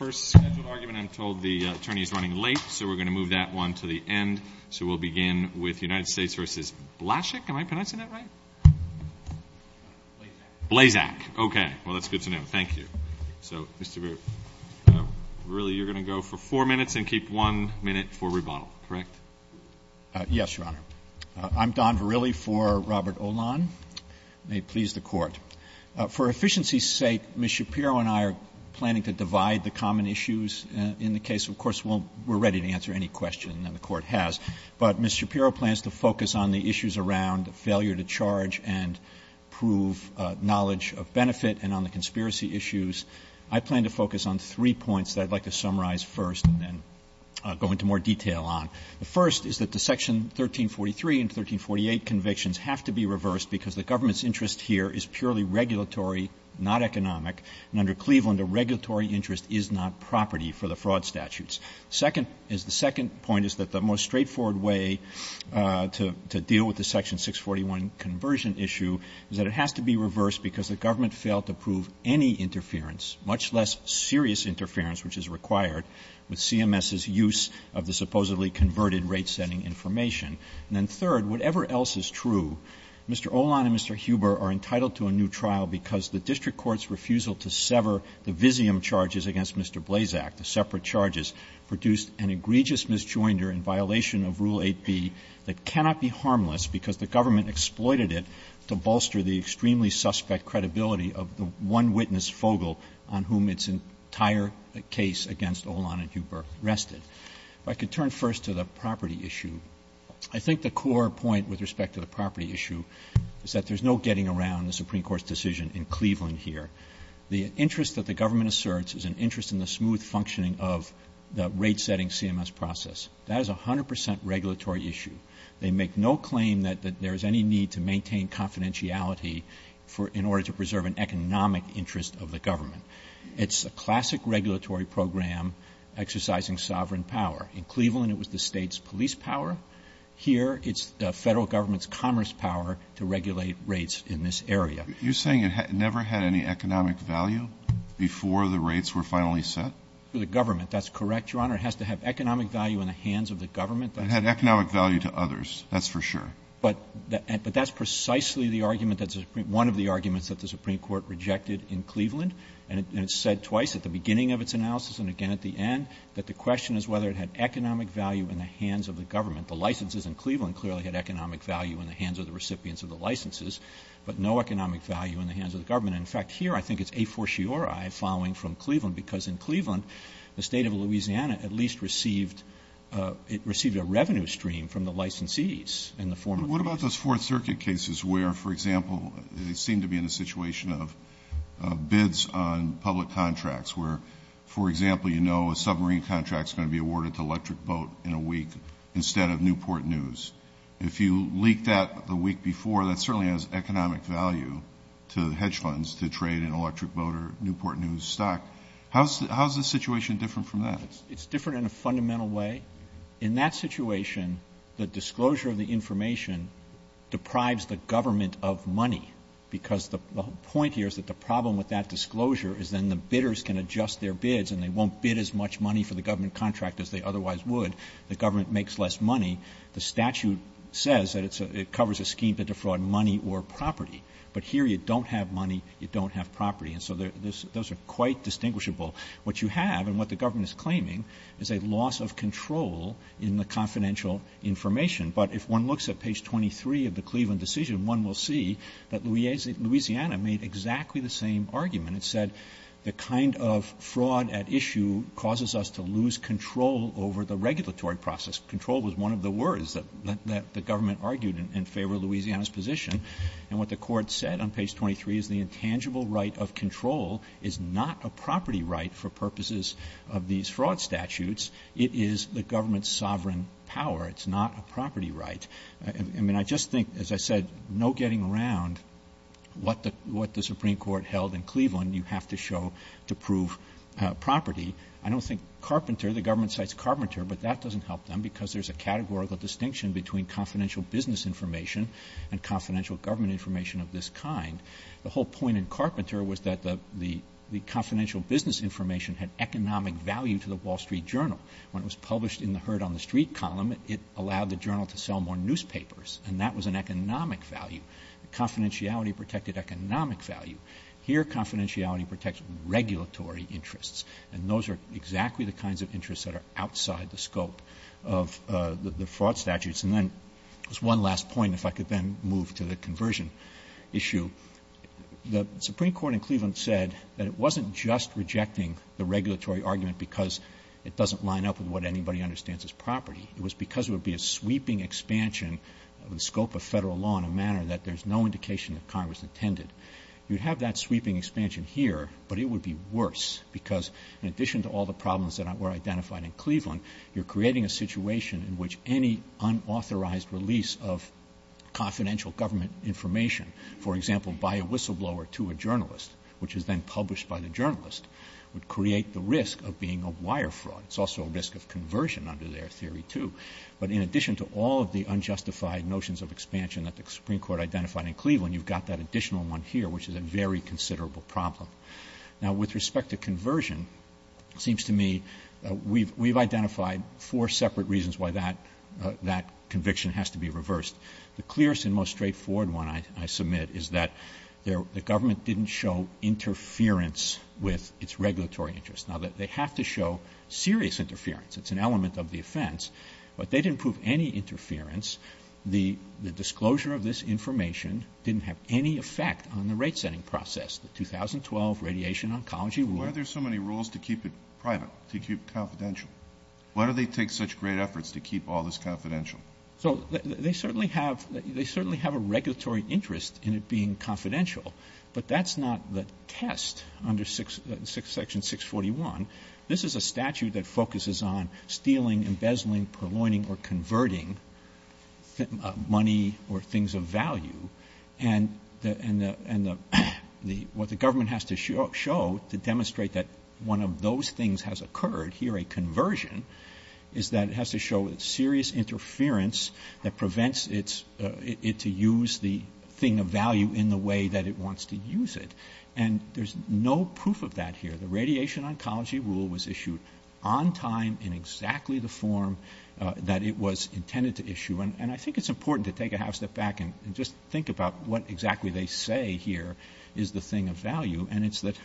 I'm Don Verrilli for Robert Oman, and may it please the Court. For efficiency's sake, Ms. Shapiro and I are planning to divide the common issues in the case. Of course, we're ready to answer any questions that the Court has. But Ms. Shapiro plans to focus on the issues around failure to charge and prove knowledge of benefit and on the conspiracy issues. I plan to focus on three points that I'd like to summarize first and then go into more detail on. The first is that the Section 1343 and 1348 convictions have to be reversed because the government's interest here is purely regulatory, not economic. And under Cleveland, the regulatory interest is not property for the fraud statutes. The second point is that the most straightforward way to deal with the Section 641 conversion issue is that it has to be reversed because the government failed to prove any interference, much less serious interference, which is required with CMS's use of the supposedly converted rate-setting information. And then third, whatever else is true, Mr. Olan and Mr. Huber are entitled to a new trial because the district court's refusal to sever the Visium charges against Mr. Blazak, the separate charges, produced an egregious misjoinder in violation of Rule 8b that cannot be harmless because the government exploited it to bolster the extremely suspect credibility of the one witness, Fogle, on whom its entire case against Olan and Huber rested. If I could turn first to the property issue, I think the core point with respect to the property issue is that there's no getting around the Supreme Court's decision in Cleveland here. The interest that the government asserts is an interest in the smooth functioning of the rate-setting CMS process. That is a hundred percent regulatory issue. They make no claim that there's any need to maintain confidentiality in order to preserve an economic interest of the government. It's a classic regulatory program exercising sovereign power. In Cleveland, it was the state's police power. Here, it's the federal government's commerce power to regulate rates in this area. You're saying it never had any economic value before the rates were finally set? The government, that's correct, Your Honor. It has to have economic value in the hands of the government. It had economic value to others, that's for sure. But that's precisely one of the arguments that the Supreme Court rejected in Cleveland, and it said twice at the beginning of its analysis and again at the end that the question is whether it had economic value in the hands of the government. The licenses in Cleveland clearly had economic value in the hands of the recipients of the licenses, but no economic value in the hands of the government. In fact, here I think it's a fortiori following from Cleveland, because in Cleveland, the state of Louisiana at least received a revenue stream from the licensees. What about those Fourth Circuit cases where, for example, they seem to be in a situation of bids on public contracts where, for example, you know a submarine contract is going to be awarded to Electric Boat in a week instead of Newport News? If you leaked that the week before, that certainly has economic value to hedge funds to trade in Electric Boat or Newport News stock. How is the situation different from that? It's different in a fundamental way. In that situation, the disclosure of the information deprives the government of money, because the point here is that the problem with that disclosure is then the bidders can adjust their bids and they won't bid as much money for the government contract as they otherwise would. The government makes less money. The statute says that it covers a scheme to defraud money or property, but here you don't have money, you don't have property, and so those are quite distinguishable. What you have and what the government is claiming is a loss of control in the confidential information, but if one looks at page 23 of the Cleveland decision, one will see that Louisiana made exactly the same argument. It said the kind of fraud at issue causes us to lose control over the regulatory process. Control was one of the words that the government argued in favor of Louisiana's position, and what the court said on page 23 is the intangible right of control is not a property right for purposes of these fraud statutes. It is the government's sovereign power. It's not a property right. I mean, I just think, as I said, no getting around what the Supreme Court held in Cleveland. You have to show to prove property. I don't think Carpenter, the government cites Carpenter, but that doesn't help them, because there's a categorical distinction between confidential business information and confidential government information of this kind. The whole point in Carpenter was that the confidential business information had economic value to the Wall Street Journal. When it was published in the Heard on the Street column, it allowed the journal to sell more newspapers, and that was an economic value. Confidentiality protected economic value. Here, confidentiality protects regulatory interests, and those are exactly the kinds of interests that are outside the scope of the fraud statutes. And then there's one last point, if I could then move to the conversion issue. The Supreme Court in Cleveland said that it wasn't just rejecting the regulatory argument because it doesn't line up with what anybody understands as property. It was because there would be a sweeping expansion of the scope of federal law in a manner that there's no indication that Congress intended. You have that sweeping expansion here, but it would be worse, because in addition to all the problems that were identified in Cleveland, you're creating a situation in which any unauthorized release of confidential government information, for example, by a whistleblower to a journalist, which is then published by the journalist, would create the risk of being a wire fraud. It's also a risk of conversion under their theory, too. But in addition to all of the unjustified notions of expansion that the Supreme Court identified in Cleveland, you've got that additional one here, which is a very considerable problem. Now, with respect to conversion, it seems to me we've identified four separate reasons why that conviction has to be reversed. The clearest and most straightforward one I submit is that the government didn't show interference with its regulatory interests. Now, they have to show serious interference. It's an element of the offense, but they didn't prove any interference. The disclosure of this information didn't have any effect on the rate-setting process, the 2012 Radiation Oncology Rule. Why are there so many rules to keep it private, to keep it confidential? Why do they take such great efforts to keep all this confidential? So they certainly have a regulatory interest in it being confidential, but that's not the test under Section 641. This is a statute that focuses on stealing, embezzling, purloining, or converting money or things of value. And what the government has to show to demonstrate that one of those things has occurred, here a conversion, is that it has to show serious interference that prevents it to use the thing of value in the way that it wants to use it. And there's no proof of that here. The Radiation Oncology Rule was issued on time in exactly the form that it was intended to issue. And I think it's important to take a half step back and just think about what exactly they say here is the thing of value. And it's that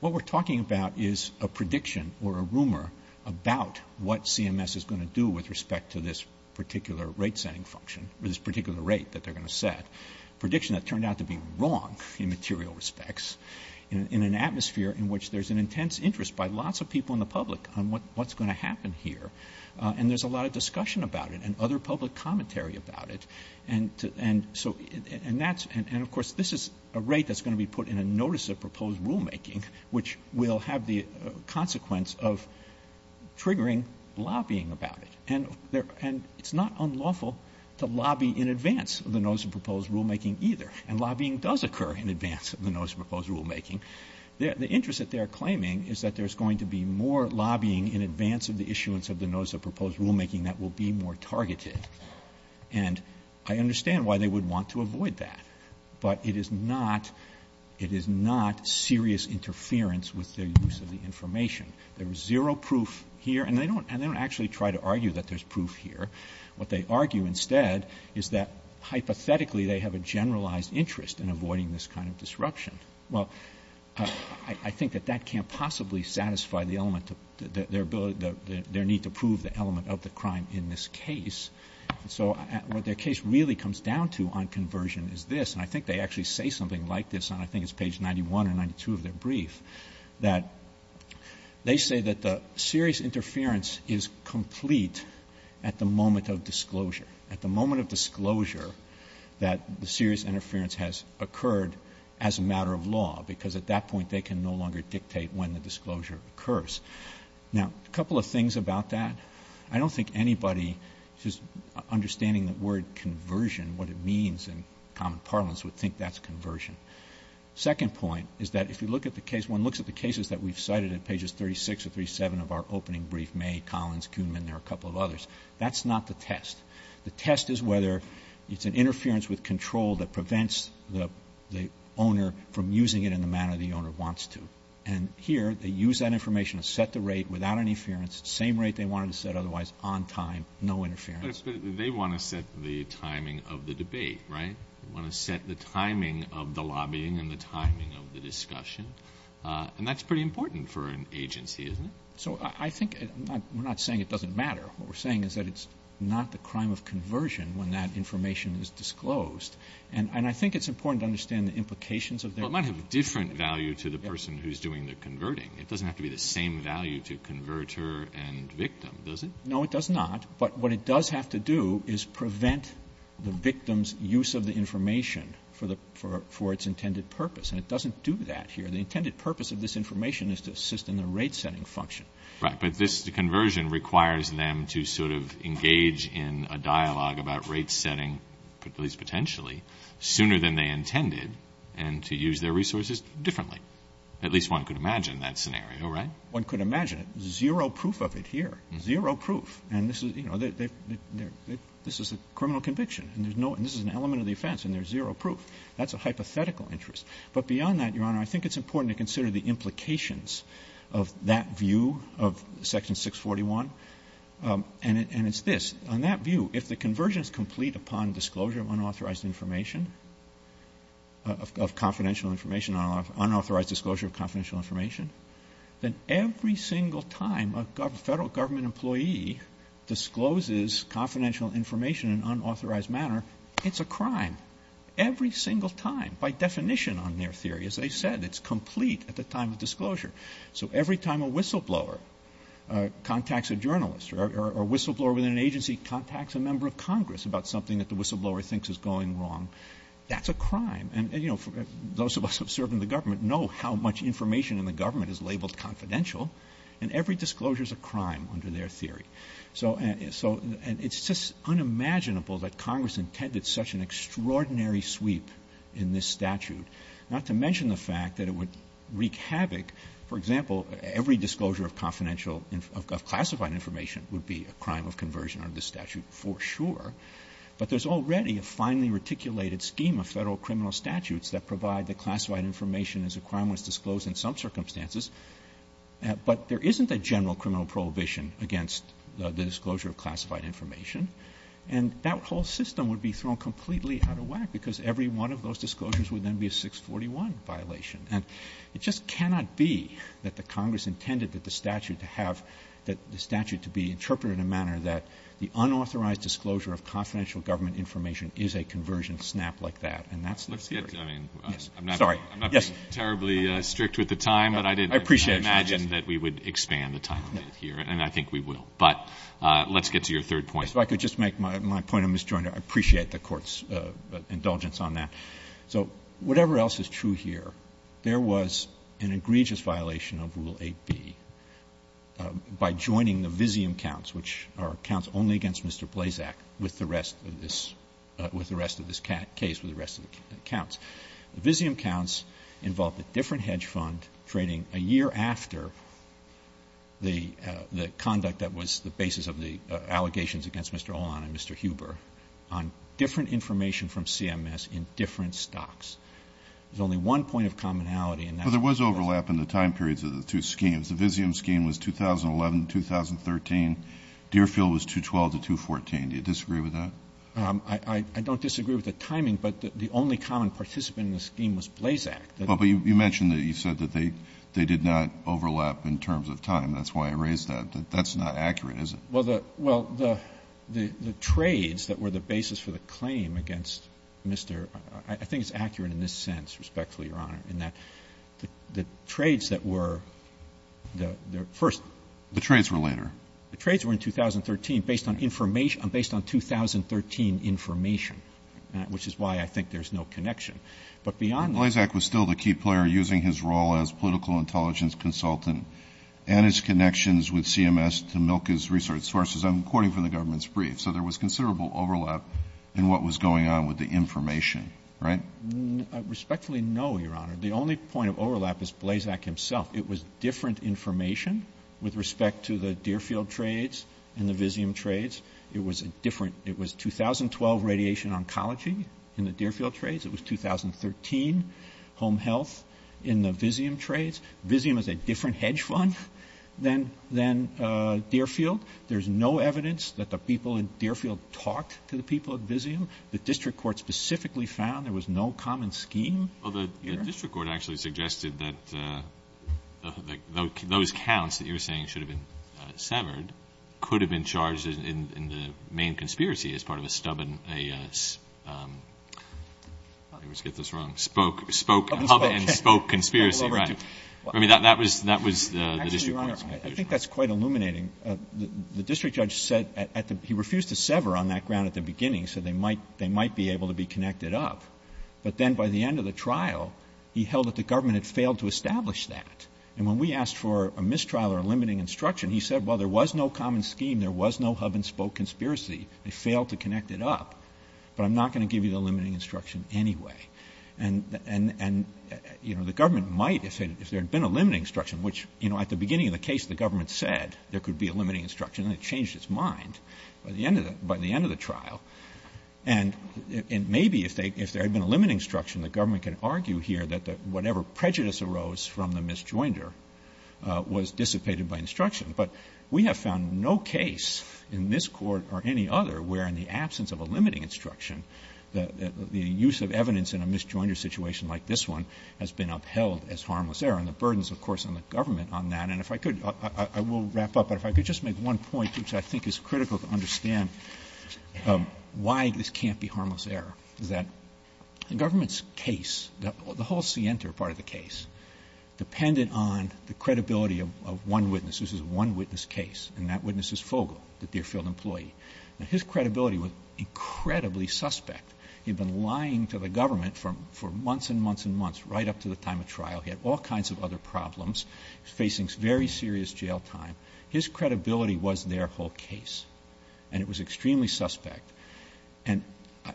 what we're talking about is a prediction or a rumor about what CMS is going to do with respect to this particular rate-setting function, this particular rate that they're going to set, a prediction that turned out to be wrong in material respects. In an atmosphere in which there's an intense interest by lots of people in the public on what's going to happen here. And there's a lot of discussion about it and other public commentary about it. And, of course, this is a rate that's going to be put in a Notice of Proposed Rulemaking, which will have the consequence of triggering lobbying about it. And it's not unlawful to lobby in advance of the Notice of Proposed Rulemaking either. And lobbying does occur in advance of the Notice of Proposed Rulemaking. The interest that they're claiming is that there's going to be more lobbying in advance of the issuance of the Notice of Proposed Rulemaking that will be more targeted. And I understand why they would want to avoid that. But it is not serious interference with the use of the information. There's zero proof here. And they don't actually try to argue that there's proof here. What they argue instead is that, hypothetically, they have a generalized interest in avoiding this kind of disruption. Well, I think that that can't possibly satisfy their need to prove the element of the crime in this case. So what their case really comes down to on conversion is this. And I think they actually say something like this, and I think it's page 91 or 92 of their brief, that they say that the serious interference is complete at the moment of disclosure, at the moment of disclosure that the serious interference has occurred as a matter of law, because at that point they can no longer dictate when the disclosure occurs. Now, a couple of things about that. I don't think anybody who's understanding the word conversion, what it means in common parlance, would think that's conversion. Second point is that if you look at the case, one looks at the cases that we've cited at pages 36 or 37 of our opening brief, May, Collins, Kuhn, and there are a couple of others. That's not the test. The test is whether it's an interference with control that prevents the owner from using it in the manner the owner wants to. And here they use that information to set the rate without any interference, the same rate they wanted to set otherwise on time, no interference. They want to set the timing of the debate, right? They want to set the timing of the lobbying and the timing of the discussion. And that's pretty important for an agency, isn't it? So I think we're not saying it doesn't matter. What we're saying is that it's not the crime of conversion when that information is disclosed. And I think it's important to understand the implications of that. Well, it might have a different value to the person who's doing the converting. It doesn't have to be the same value to converter and victim, does it? No, it does not. But what it does have to do is prevent the victim's use of the information for its intended purpose. And it doesn't do that here. The intended purpose of this information is to assist in the rate-setting function. Right, but this conversion requires them to sort of engage in a dialogue about rate-setting, at least potentially, sooner than they intended and to use their resources differently. At least one could imagine that scenario, right? One could imagine it. Zero proof of it here. Zero proof. And this is a criminal conviction, and this is an element of the offense, and there's zero proof. That's a hypothetical interest. But beyond that, Your Honor, I think it's important to consider the implications of that view of Section 641. And it's this. On that view, if the conversion is complete upon disclosure of unauthorized information, of confidential information, unauthorized disclosure of confidential information, then every single time a federal government employee discloses confidential information in an unauthorized manner, it's a crime. Every single time, by definition on their theory, as I said, it's complete at the time of disclosure. So every time a whistleblower contacts a journalist or a whistleblower within an agency contacts a member of Congress about something that the whistleblower thinks is going wrong, that's a crime. And, you know, those of us who serve in the government know how much information in the government is labeled confidential, and every disclosure is a crime under their theory. So it's just unimaginable that Congress intended such an extraordinary sweep in this statute, not to mention the fact that it would wreak havoc. For example, every disclosure of classified information would be a crime of conversion under this statute for sure. But there's already a finely reticulated scheme of federal criminal statutes that provide the classified information as a crime was disclosed in some circumstances. But there isn't a general criminal prohibition against the disclosure of classified information. And that whole system would be thrown completely out of whack, because every one of those disclosures would then be a 641 violation. And it just cannot be that the Congress intended that the statute to have, that the statute to be interpreted in a manner that the unauthorized disclosure of confidential government information is a conversion snap like that, and that's not the case. I'm not terribly strict with the time, but I didn't imagine that we would expand the time here, and I think we will. But let's get to your third point. If I could just make my point of misjoint, I appreciate the Court's indulgence on that. So whatever else is true here, there was an egregious violation of Rule 8B by joining the Visium counts, which are counts only against Mr. Blazak, with the rest of this case, with the rest of the counts. Visium counts involved a different hedge fund trading a year after the conduct that was the basis of the allegations against Mr. Olan and Mr. Huber on different information from CMS in different stocks. There's only one point of commonality in that. Well, there was overlap in the time periods of the two schemes. The Visium scheme was 2011-2013. Deerfield was 2012-2014. Do you disagree with that? I don't disagree with the timing, but the only common participant in the scheme was Blazak. Well, but you mentioned that you said that they did not overlap in terms of time. That's why I raised that. That's not accurate, is it? Well, the trades that were the basis for the claim against Mr. — I think it's accurate in this sense, respectfully, Your Honor, in that the trades that were the first — The trades were later. The trades were in 2013 based on 2013 information, which is why I think there's no connection. But beyond that — Blazak was still the key player using his role as political intelligence consultant and his connections with CMS to milk his research sources, according to the government's brief. So there was considerable overlap in what was going on with the information, right? Respectfully, no, Your Honor. The only point of overlap is Blazak himself. It was different information with respect to the Deerfield trades and the Visium trades. It was a different — it was 2012 radiation oncology in the Deerfield trades. It was 2013 home health in the Visium trades. Visium is a different hedge fund than Deerfield. There's no evidence that the people in Deerfield talked to the people at Visium. The district court specifically found there was no common scheme. Well, the district court actually suggested that those counts that you're saying should have been severed could have been charged in the main conspiracy as part of a stubborn — let's get this wrong — spoke public and spoke conspiracy, right? I mean, that was the district court's conclusion. Actually, Your Honor, I think that's quite illuminating. The district judge said — he refused to sever on that ground at the beginning so they might be able to be connected up. But then by the end of the trial, he held that the government had failed to establish that. And when we asked for a mistrial or a limiting instruction, he said, well, there was no common scheme, there was no hub-and-spoke conspiracy. They failed to connect it up. But I'm not going to give you the limiting instruction anyway. And, you know, the government might, if there had been a limiting instruction, which, you know, at the beginning of the case, the government said there could be a limiting instruction, and it changed its mind by the end of the trial. And maybe if there had been a limiting instruction, the government could argue here that whatever prejudice arose from the misjoinder was dissipated by instruction. But we have found no case in this court or any other where, in the absence of a limiting instruction, the use of evidence in a misjoinder situation like this one has been upheld as harmless error. And the burden is, of course, on the government on that. And if I could — I will wrap up. But if I could just make one point, which I think is critical to understand why this can't be harmless error, is that the government's case, the whole scienter part of the case, depended on the credibility of one witness. This is a one-witness case, and that witness is Fogle, the Deerfield employee. And his credibility was incredibly suspect. He had been lying to the government for months and months and months, right up to the time of trial. He had all kinds of other problems, facing very serious jail time. His credibility was their whole case, and it was extremely suspect. And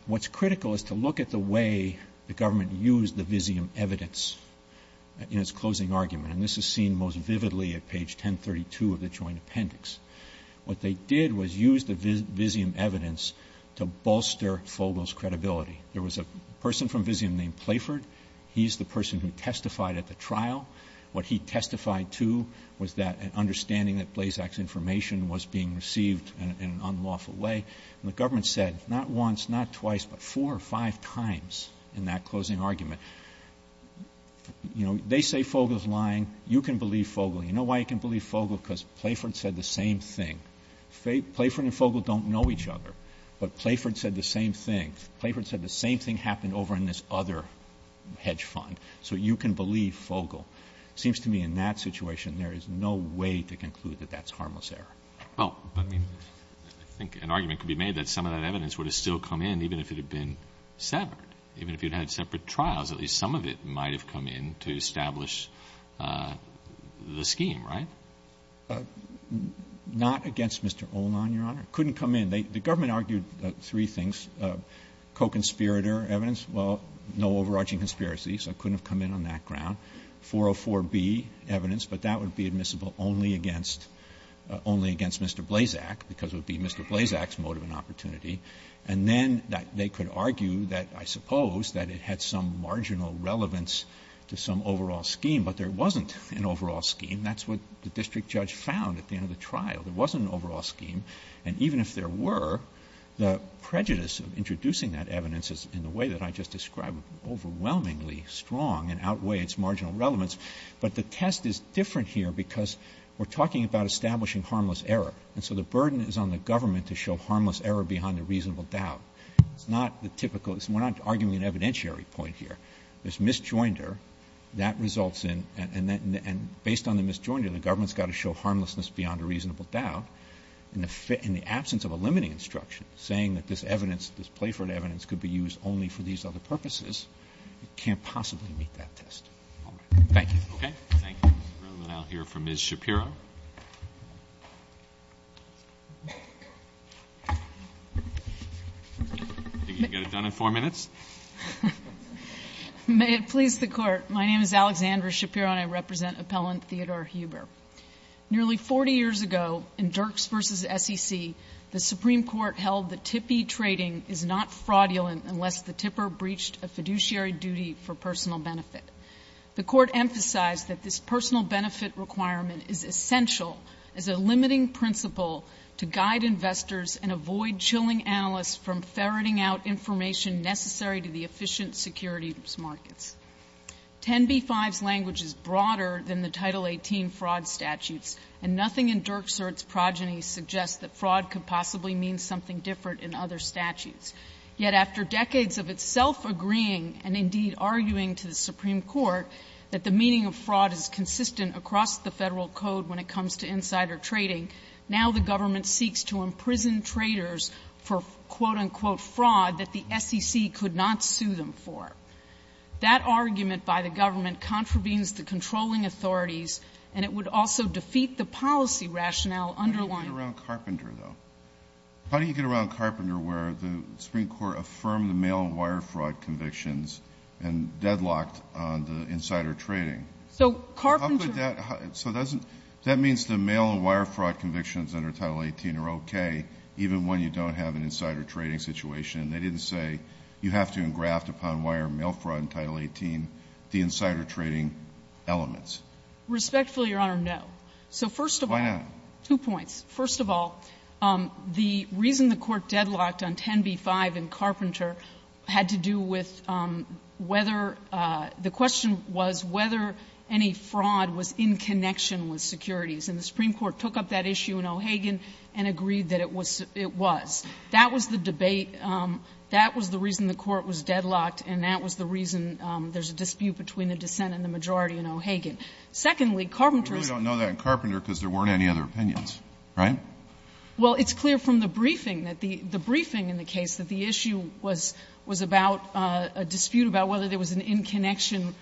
what's critical is to look at the way the government used the Visium evidence in its closing argument. And this is seen most vividly at page 1032 of the joint appendix. What they did was use the Visium evidence to bolster Fogle's credibility. There was a person from Visium named Playford. He's the person who testified at the trial. What he testified to was that understanding that Blayzac's information was being received in an unlawful way. And the government said, not once, not twice, but four or five times in that closing argument, you know, they say Fogle's lying. You can believe Fogle. You know why you can believe Fogle? Because Playford said the same thing. Playford and Fogle don't know each other, but Playford said the same thing. Playford said the same thing happened over in this other hedge fund. So you can believe Fogle. It seems to me in that situation there is no way to conclude that that's harmless error. Oh, I mean, I think an argument could be made that some of that evidence would have still come in even if it had been separate, even if you'd had separate trials. At least some of it might have come in to establish the scheme, right? Not against Mr. Olan, Your Honor. It couldn't come in. The government argued three things, co-conspirator evidence. Well, no overarching conspiracy, so it couldn't have come in on that ground. 404B evidence, but that would be admissible only against Mr. Blazak because it would be Mr. Blazak's motive and opportunity. And then that they could argue that I suppose that it had some marginal relevance to some overall scheme, but there wasn't an overall scheme. That's what the district judge found at the end of the trial. There wasn't an overall scheme. And even if there were, the prejudice of introducing that evidence in the way that I just described was overwhelmingly strong and outweighed its marginal relevance. But the test is different here because we're talking about establishing harmless error. And so the burden is on the government to show harmless error beyond a reasonable doubt. It's not the typical, we're not arguing an evidentiary point here. There's misjoinder. That results in, and based on the misjoinder, the government's got to show harmlessness beyond a reasonable doubt. In the absence of a limiting instruction, saying that this evidence, this Playford evidence, could be used only for these other purposes, you can't possibly meet that test. Thank you. Okay. Thank you, Mr. Reumann. I'll hear from Ms. Shapiro. Think you can get it done in four minutes? May it please the Court. My name is Alexandra Shapiro and I represent Appellant Theodore Huber. Nearly 40 years ago in Dirks v. SEC, the Supreme Court held that TIPI trading is not fraudulent unless the tipper breached a fiduciary duty for personal benefit. The Court emphasized that this personal benefit requirement is essential as a limiting principle to guide investors and avoid chilling analysts from ferreting out information necessary to the efficient security markets. 10b-5's language is broader than the Title 18 fraud statute, and nothing in Dirks v. SEC's progeny suggests that fraud could possibly mean something different in other statutes. Yet after decades of itself agreeing and, indeed, arguing to the Supreme Court that the meaning of fraud is consistent across the federal code when it comes to insider trading, now the government seeks to imprison traders for, quote-unquote, fraud that the SEC could not sue them for. That argument by the government contravenes the controlling authorities and it would also defeat the policy rationale underlying... How do you get around Carpenter though? How do you get around Carpenter where the Supreme Court affirmed the mail and wire fraud convictions and deadlocked the insider trading? So Carpenter... How could that... So doesn't... That means the mail and wire fraud convictions under Title 18 are okay even when you don't have an insider trading situation. They didn't say you have to engraft upon wire and mail fraud in Title 18 the insider trading elements. Respectfully, Your Honor, no. So first of all... Why not? Two points. First of all, the reason the court deadlocked on 10b-5 and Carpenter had to do with whether... The question was whether any fraud was in connection with securities, and the Supreme Court took up that issue in O'Hagan and agreed that it was. That was the debate. That was the reason the court was deadlocked, and that was the reason there's a dispute between the dissent and the majority in O'Hagan. Secondly, Carpenter... We really don't know that in Carpenter because there weren't any other opinions, right? Well, it's clear from the briefing, the briefing in the case, that the issue was about a dispute about whether there was an in-connection,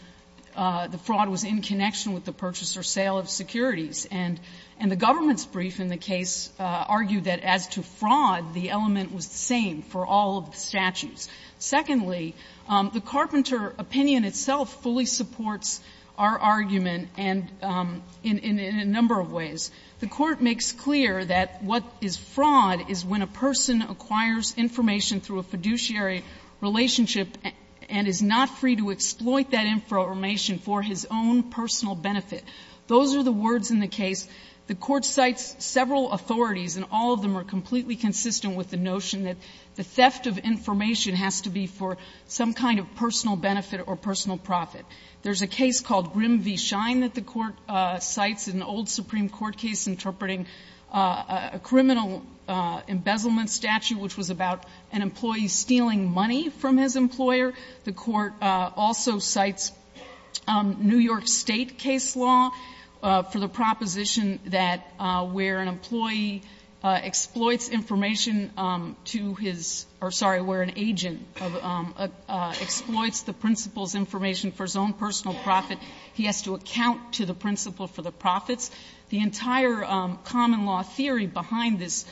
the fraud was in connection with the purchase or sale of securities, and the government's brief in the case argued that as to fraud, the element was the same for all statutes. Secondly, the Carpenter opinion itself fully supports our argument in a number of ways. The court makes clear that what is fraud is when a person acquires information through a fiduciary relationship and is not free to exploit that information for his own personal benefit. Those are the words in the case. The court cites several authorities, and all of them are completely consistent with the notion that the theft of information has to be for some kind of personal benefit or personal profit. There's a case called Grim v. Shine that the court cites, an old Supreme Court case interpreting a criminal embezzlement statute, which was about an employee stealing money from his employer. The court also cites New York State case law for the proposition that where an employee exploits information to his, or sorry, where an agent exploits the principal's information for his own personal profit, he has to account to the principal for the profit. The entire common law theory behind this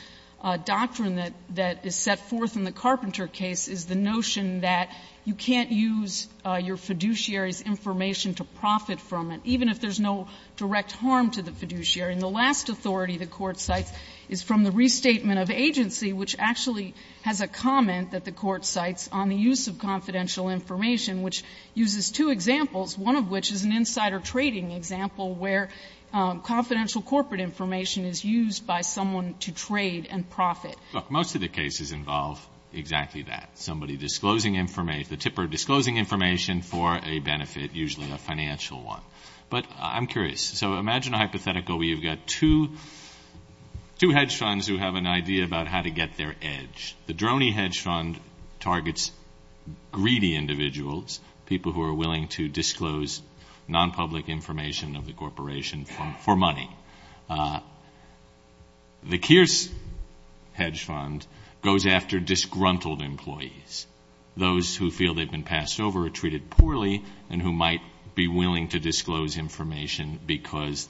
doctrine that is set forth in the Carpenter case is the notion that you can't use your fiduciary's information to profit from it, even if there's no direct harm to the fiduciary. And the last authority the court cites is from the restatement of agency, which actually has a comment that the court cites on the use of confidential information, which uses two examples, one of which is an insider trading example, where confidential corporate information is used by someone to trade and profit. Most of the cases involve exactly that, somebody disclosing information for a benefit, usually a financial one. But I'm curious. So imagine a hypothetical where you've got two hedge funds who have an idea about how to get their edge. The Droney hedge fund targets greedy individuals, people who are willing to disclose nonpublic information of the corporation for money. The Kearse hedge fund goes after disgruntled employees, those who feel they've been passed over or treated poorly and who might be willing to disclose information because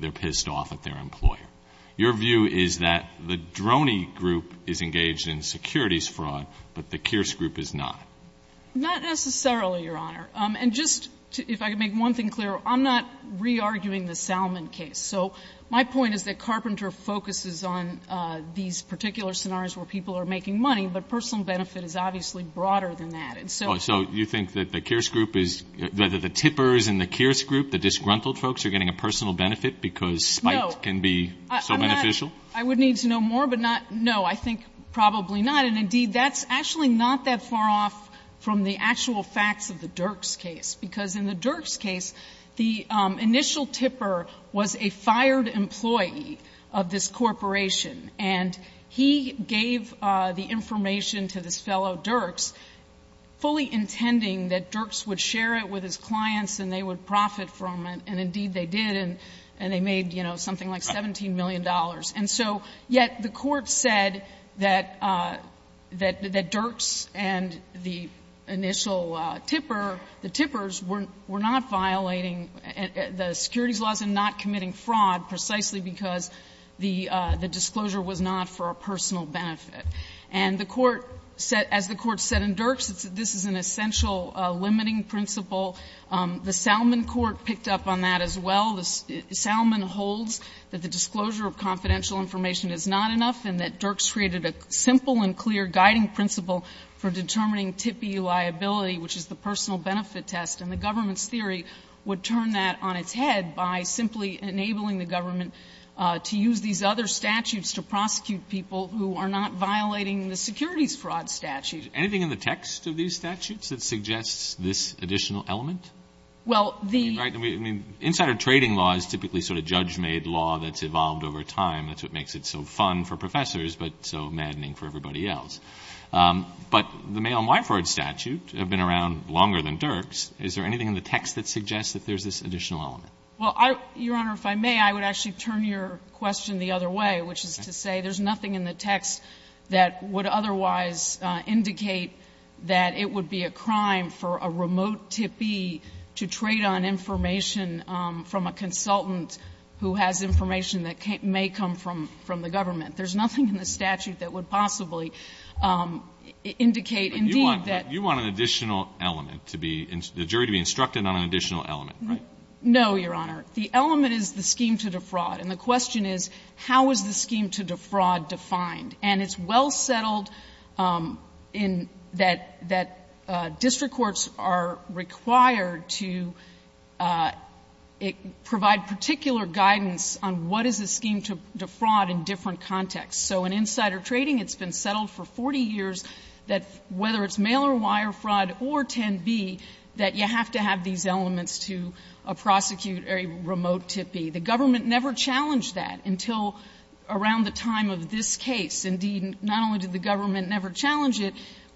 they're pissed off at their employer. Your view is that the Droney group is engaged in securities fraud, but the Kearse group is not. Not necessarily, Your Honor. And just, if I could make one thing clear, I'm not re-arguing the Salmon case. So my point is that Carpenter focuses on these particular scenarios where people are making money, but personal benefit is obviously broader than that. So you think that the Kearse group is, that the tippers in the Kearse group, the disgruntled folks, are getting a personal benefit because spite can be so beneficial? I would need to know more, but no, I think probably not. And, indeed, that's actually not that far off from the actual facts of the Dirks case. Because in the Dirks case, the initial tipper was a fired employee of this corporation, and he gave the information to the fellow Dirks, fully intending that Dirks would share it with his clients and they would profit from it. And, indeed, they did, and they made, you know, something like $17 million. And so, yet, the court said that Dirks and the initial tipper, the tippers were not violating the securities laws and not committing fraud, precisely because the disclosure was not for a personal benefit. And the court said, as the court said in Dirks, this is an essential limiting principle. The Salmon court picked up on that as well. The Salmon holds that the disclosure of confidential information is not enough and that Dirks created a simple and clear guiding principle for determining tippy liability, which is the personal benefit test. And the government's theory would turn that on its head by simply enabling the government to use these other statutes to prosecute people who are not violating the securities fraud statute. Is anything in the text of these statutes that suggests this additional element? I mean, insider trading law is typically sort of judge-made law that's evolved over time. That's what makes it so fun for professors but so maddening for everybody else. But the mail-on-wire fraud statute had been around longer than Dirks. Is there anything in the text that suggests that there's this additional element? Well, Your Honor, if I may, I would actually turn your question the other way, which is to say there's nothing in the text that would otherwise indicate that it would be a crime for a remote tippy to trade on information from a consultant who has information that may come from the government. There's nothing in the statute that would possibly indicate indeed that. You want an additional element, the jury to be instructed on an additional element, right? No, Your Honor. The element is the scheme to defraud. And the question is, how is the scheme to defraud defined? And it's well settled that district courts are required to provide particular guidance on what is the scheme to defraud in different contexts. So in insider trading, it's been settled for 40 years that whether it's mail-on-wire fraud or 10B, that you have to have these elements to prosecute a remote tippy. The government never challenged that until around the time of this case. Indeed, not only did the government never challenge it,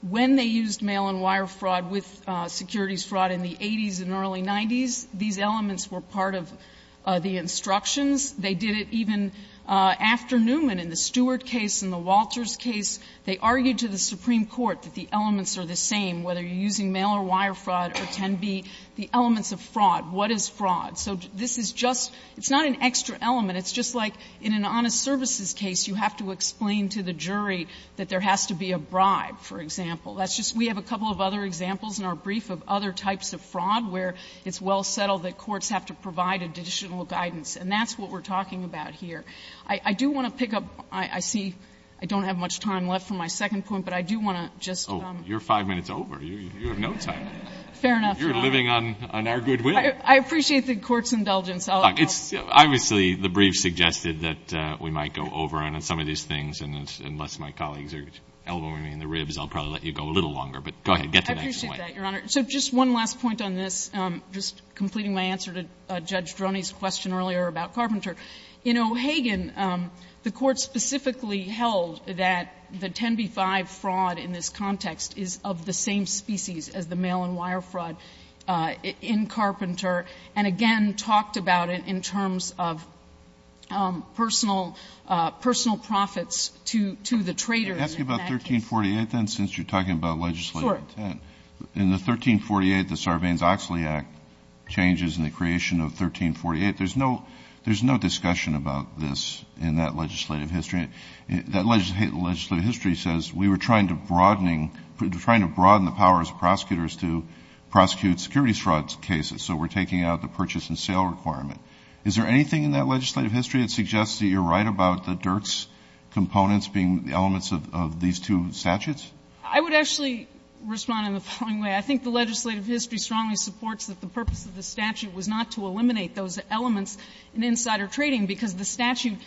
when they used mail-on-wire fraud with securities fraud in the 80s and early 90s, these elements were part of the instructions. They did it even after Newman in the Stewart case and the Walters case. They argued to the Supreme Court that the elements are the same, whether you're using mail-on-wire fraud or 10B, the elements of fraud. What is fraud? So this is just – it's not an extra element. It's just like in an honest services case, you have to explain to the jury that there has to be a bribe, for example. That's just – we have a couple of other examples in our brief of other types of fraud where it's well settled that courts have to provide additional guidance, and that's what we're talking about here. I do want to pick up – I see I don't have much time left for my second point, but I do want to just – Oh, you're five minutes over. You have no time. Fair enough. You're living on our goodwill. I appreciate the court's indulgence. Obviously, the brief suggested that we might go over on some of these things, and unless my colleagues are elbowing me in the ribs, I'll probably let you go a little longer. I appreciate that, Your Honor. So just one last point on this, just completing my answer to Judge Droney's question earlier about Carpenter. In O'Hagan, the court specifically held that the 10B-5 fraud in this context is of the same species as the mail-and-wire fraud in Carpenter and, again, talked about it in terms of personal profits to the traders. You're asking about 1348, then, since you're talking about legislative intent? Sure. In the 1348, the Sarbanes-Oxley Act changes in the creation of 1348. There's no discussion about this in that legislative history. That legislative history says we were trying to broaden the powers of prosecutors to prosecute security fraud cases, so we're taking out the purchase-and-sale requirement. Is there anything in that legislative history that suggests that you're right about the Dirks components being elements of these two statutes? I would actually respond in the following way. I think the legislative history strongly supports that the purpose of the statute was not to eliminate those elements in insider trading because the statute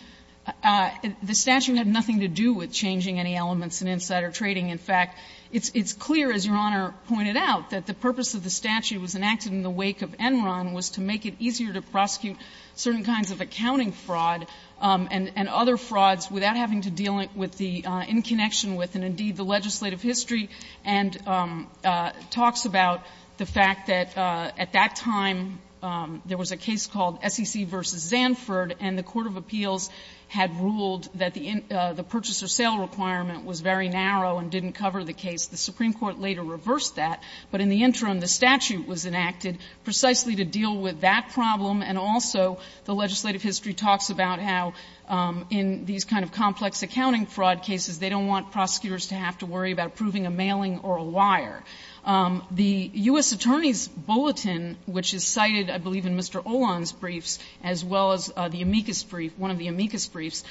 had nothing to do with changing any elements in insider trading. In fact, it's clear, as Your Honor pointed out, that the purpose of the statute was enacted in the wake of Enron was to make it easier to prosecute certain kinds of accounting fraud and other frauds without having to deal with the in connection with, and indeed the legislative history, and talks about the fact that at that time there was a case called SEC v. Zanford and the Court of Appeals had ruled that the purchase-and-sale requirement was very narrow and didn't cover the case. The Supreme Court later reversed that, but in the interim the statute was enacted precisely to deal with that problem, and also the legislative history talks about how in these kinds of complex accounting fraud cases they don't want prosecutors to have to worry about proving a mailing or a wire. The U.S. Attorney's Bulletin, which is cited, I believe, in Mr. Olan's briefs, as well as the amicus brief, one of the amicus briefs,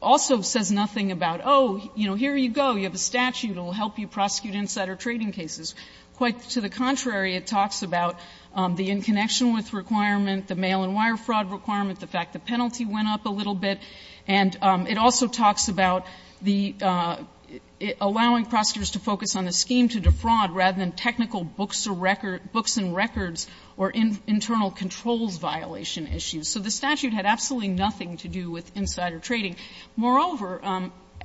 also says nothing about, oh, you know, here you go, you have a statute that will help you prosecute insider trading cases. Quite to the contrary, it talks about the in connection with requirement, the mail and wire fraud requirement, the fact the penalty went up a little bit, and it also talks about allowing prosecutors to focus on the scheme to defraud rather than technical books and records or internal controls violation issues. So the statute had absolutely nothing to do with insider trading. Moreover,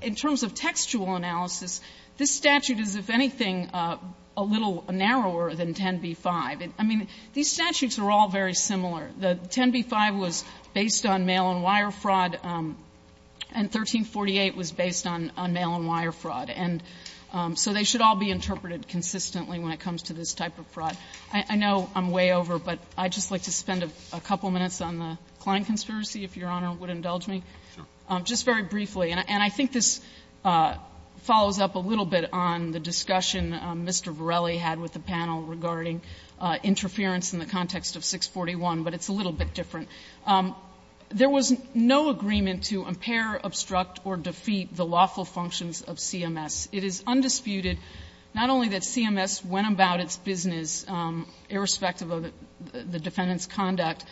in terms of textual analysis, this statute is, if anything, a little narrower than 10b-5. I mean, these statutes are all very similar. The 10b-5 was based on mail and wire fraud, and 1348 was based on mail and wire fraud. And so they should all be interpreted consistently when it comes to this type of fraud. I know I'm way over, but I'd just like to spend a couple minutes on the Klein conspiracy, if Your Honor would indulge me, just very briefly. And I think this follows up a little bit on the discussion Mr. Varelli had with the panel regarding interference in the context of 641, but it's a little bit different. There was no agreement to impair, obstruct, or defeat the lawful functions of CMS. It is undisputed not only that CMS went about its business irrespective of the defendant's conduct,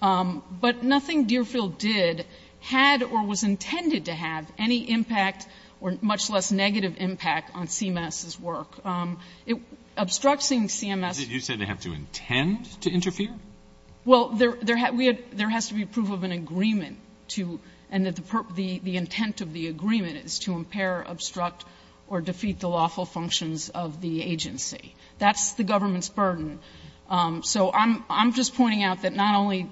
but nothing Deerfield did had or was intended to have any impact or much less negative impact on CMS's work. Obstructing CMS... Did you say they had to intend to interfere? Well, there has to be proof of an agreement, and the intent of the agreement is to impair, obstruct, or defeat the lawful functions of the agency. That's the government's burden. So I'm just pointing out that not only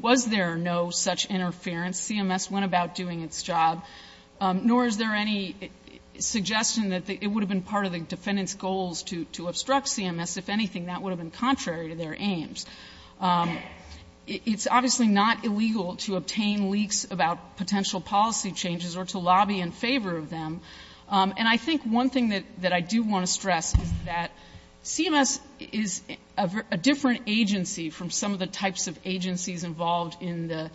was there no such interference, CMS went about doing its job, nor is there any suggestion that it would have been part of the defendant's goals to obstruct CMS. If anything, that would have been contrary to their aims. It's obviously not illegal to obtain leaks about potential policy changes or to lobby in favor of them, and I think one thing that I do want to stress is that CMS is a different agency from some of the types of agencies involved in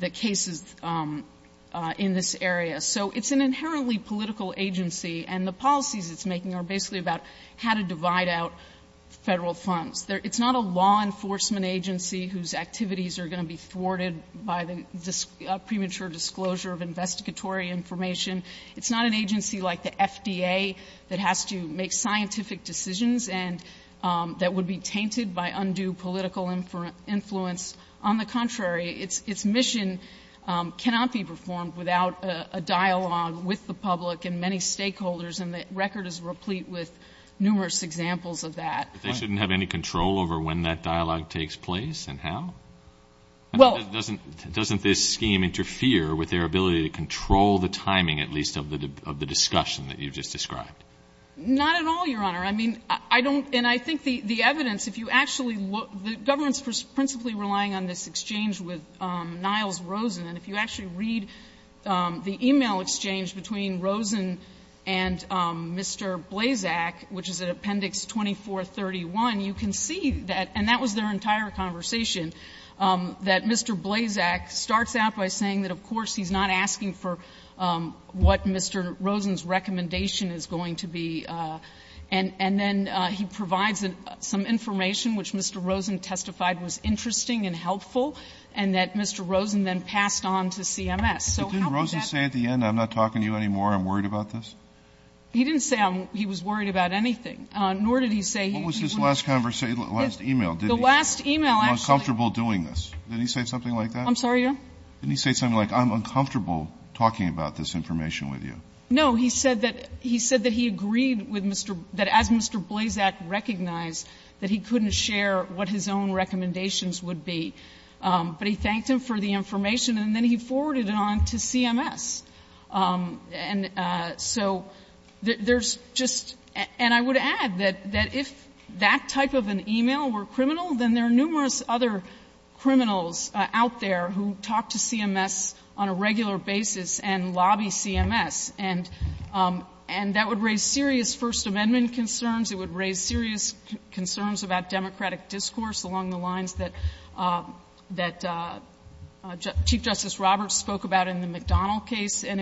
the cases in this area. So it's an inherently political agency, and the policies it's making are basically about how to divide out federal funds. It's not a law enforcement agency whose activities are going to be thwarted by the premature disclosure of investigatory information. It's not an agency like the FDA that has to make scientific decisions and that would be tainted by undue political influence. On the contrary, its mission cannot be performed without a dialogue with the public and many stakeholders, and the record is replete with numerous examples of that. They shouldn't have any control over when that dialogue takes place and how? Doesn't this scheme interfere with their ability to control the timing, at least of the discussion that you just described? Not at all, Your Honor. I think the evidence, if you actually look, the government is principally relying on this exchange with Niles Rosen, and if you actually read the email exchange between Rosen and Mr. Blazak, which is in Appendix 2431, you can see that, and that was their entire conversation, that Mr. Blazak starts out by saying that, of course, he's not asking for what Mr. Rosen's recommendation is going to be, and then he provides some information which Mr. Rosen testified was interesting and helpful, and that Mr. Rosen then passed on to CMS. Didn't Rosen say at the end, I'm not talking to you anymore, I'm worried about this? He didn't say he was worried about anything, nor did he say he was uncomfortable doing this. Did he say something like that? I'm sorry, Your Honor? Didn't he say something like, I'm uncomfortable talking about this information with you? No, he said that he agreed that as Mr. Blazak recognized that he couldn't share what his own recommendations would be, but he thanked him for the information, and then he forwarded it on to CMS. And so there's just – and I would add that if that type of an email were criminal, then there are numerous other criminals out there who talk to CMS on a regular basis and lobby CMS, and that would raise serious First Amendment concerns. It would raise serious concerns about democratic discourse along the lines that Chief Justice Roberts spoke about in the McDonnell case, and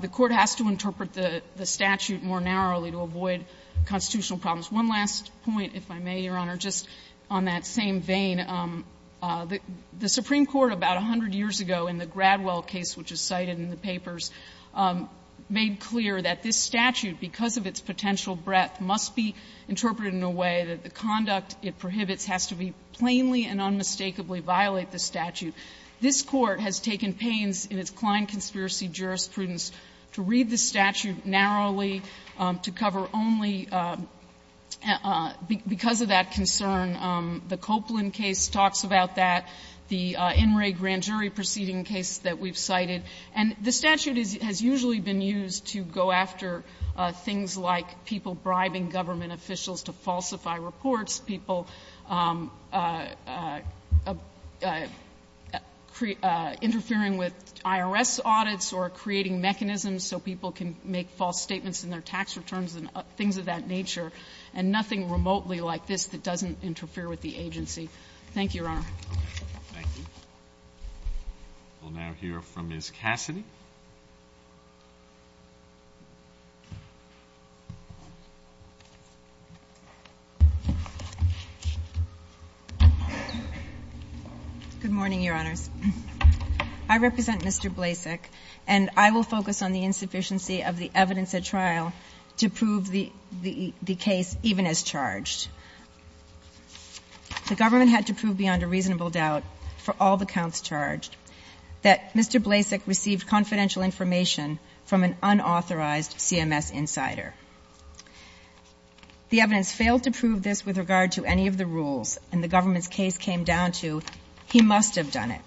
the Court has to interpret the statute more narrowly to avoid constitutional problems. One last point, if I may, Your Honor, just on that same vein. The Supreme Court about 100 years ago in the Gradwell case, which is cited in the papers, made clear that this statute, because of its potential breadth, must be interpreted in a way that the conduct it prohibits has to be plainly and unmistakably violate the statute. This Court has taken pains in its Klein Conspiracy jurisprudence to read the statute narrowly, to cover only because of that concern. The Copeland case talks about that, the In re Grand Jury proceeding case that we've cited. And the statute has usually been used to go after things like people bribing government officials to falsify reports, people interfering with IRS audits or creating mechanisms so people can make false statements in their tax returns and things of that nature, and nothing remotely like this that doesn't interfere with the agency. Thank you, Your Honor. Thank you. We'll now hear from Ms. Cassidy. Good morning, Your Honor. I represent Mr. Blasek, and I will focus on the insufficiency of the evidence at trial to prove the case even as charged. The government had to prove beyond a reasonable doubt for all the counts charged that Mr. Blasek received confidential information from an unauthorized CMS insider. The evidence failed to prove this with regard to any of the rules, and the government's case came down to he must have done it.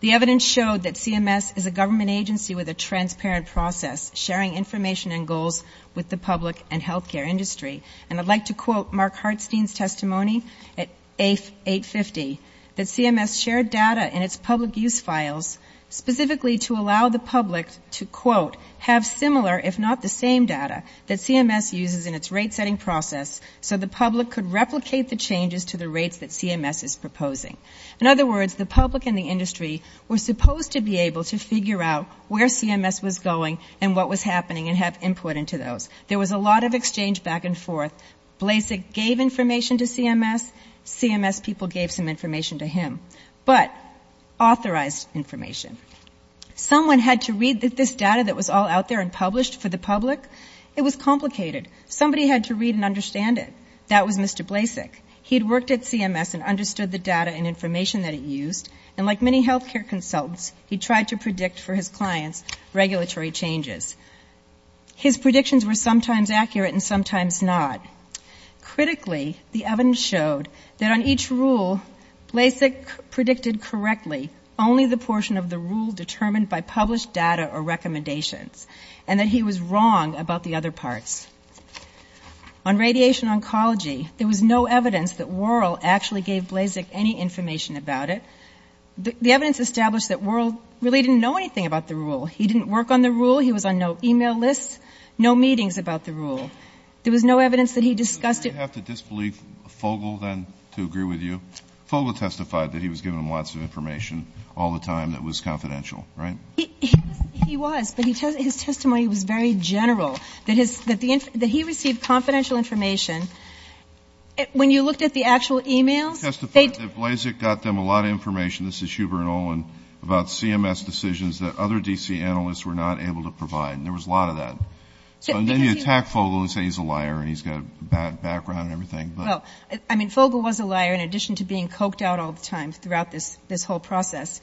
The evidence showed that CMS is a government agency with a transparent process sharing information and goals with the public and healthcare industry. And I'd like to quote Mark Hartstein's testimony at 850, that CMS shared data in its public use files specifically to allow the public to, quote, have similar if not the same data that CMS uses in its rate-setting process so the public could replicate the changes to the rates that CMS is proposing. In other words, the public and the industry were supposed to be able to figure out where CMS was going and what was happening and have input into those. There was a lot of exchange back and forth. Blasek gave information to CMS. CMS people gave some information to him, but authorized information. Someone had to read this data that was all out there and published for the public. It was complicated. Somebody had to read and understand it. That was Mr. Blasek. He'd worked at CMS and understood the data and information that it used, and like many healthcare consultants, he tried to predict for his clients regulatory changes. His predictions were sometimes accurate and sometimes not. Critically, the evidence showed that on each rule, Blasek predicted correctly only the portion of the rule determined by published data or recommendations and that he was wrong about the other parts. On radiation oncology, there was no evidence that Worrell actually gave Blasek any information about it. The evidence established that Worrell really didn't know anything about the rule. He didn't work on the rule. He was on no e-mail list, no meetings about the rule. There was no evidence that he discussed it. Do I have to disbelieve Fogle, then, to agree with you? Fogle testified that he was given lots of information all the time that was confidential, right? He was, but his testimony was very general, that he received confidential information. When you looked at the actual e-mails. He testified that Blasek got them a lot of information. This is Schubert and Olin about CMS decisions that other DC analysts were not able to provide, and there was a lot of that. Then you attack Fogle and say he's a liar and he's got a bad background and everything. I mean, Fogle was a liar in addition to being coked out all the time throughout this whole process.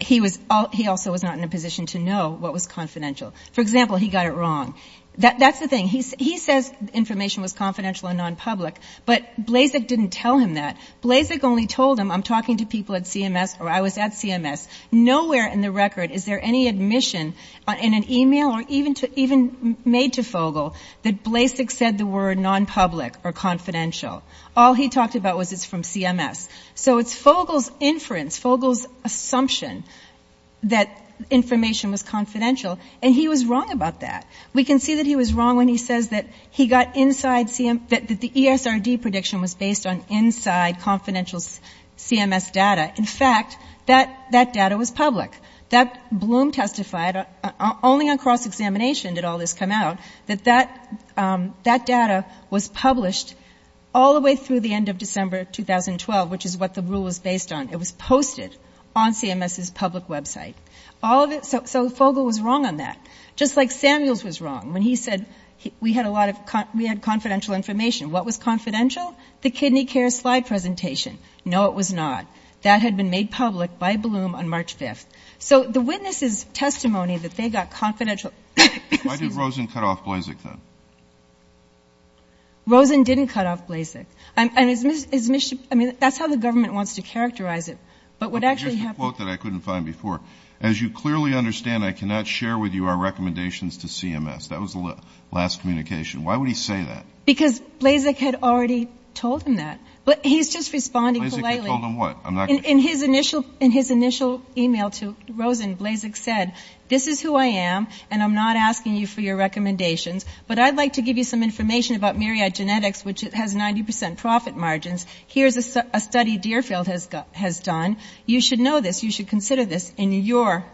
He also was not in a position to know what was confidential. For example, he got it wrong. That's the thing. He says information was confidential and non-public, but Blasek didn't tell him that. Blasek only told him, I'm talking to people at CMS or I was at CMS. Nowhere in the record is there any admission in an e-mail or even made to Fogle that Blasek said the word non-public or confidential. All he talked about was it's from CMS. So it's Fogle's inference, Fogle's assumption that information was confidential, and he was wrong about that. We can see that he was wrong when he says that the ESRD prediction was based on inside confidential CMS data. In fact, that data was public. Bloom testified, only on cross-examination did all this come out, that that data was published all the way through the end of December 2012, which is what the rule was based on. It was posted on CMS's public website. So Fogle was wrong on that. Just like Samuels was wrong when he said we had confidential information. What was confidential? The kidney care slide presentation. No, it was not. That had been made public by Bloom on March 5th. So the witnesses' testimony that they got confidential... Why did Rosen cut off Blasek, then? Rosen didn't cut off Blasek. I mean, that's how the government wants to characterize it, but what actually happened... That was the last communication. Why would he say that? Because Blasek had already told him that, but he's just responding politely. Blasek had told him what? In his initial e-mail to Rosen, Blasek said, this is who I am, and I'm not asking you for your recommendations, but I'd like to give you some information about Myriad Genetics, which has 90% profit margins. Here's a study Deerfield has done. You should know this. You should consider this in your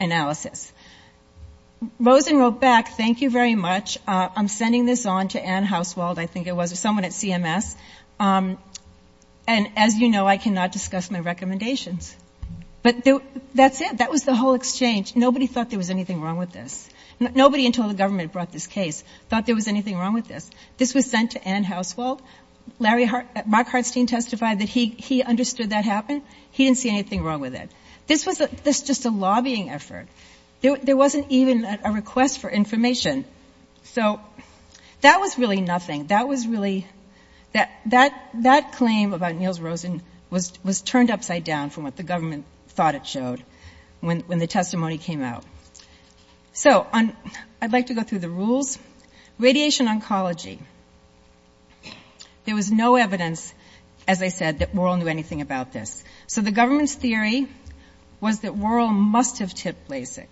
analysis. Rosen wrote back, thank you very much. I'm sending this on to Ann Housewald, I think it was, someone at CMS. And as you know, I cannot discuss my recommendations. But that's it. That was the whole exchange. Nobody thought there was anything wrong with this. Nobody until the government brought this case thought there was anything wrong with this. This was sent to Ann Housewald. Mark Hartstein testified that he understood that happened. He didn't see anything wrong with it. This was just a lobbying effort. There wasn't even a request for information. So that was really nothing. That was really, that claim about Niels Rosen was turned upside down from what the government thought it showed when the testimony came out. So I'd like to go through the rules. Radiation oncology. There was no evidence, as I said, that Wuerl knew anything about this. So the government's theory was that Wuerl must have tipped Blasek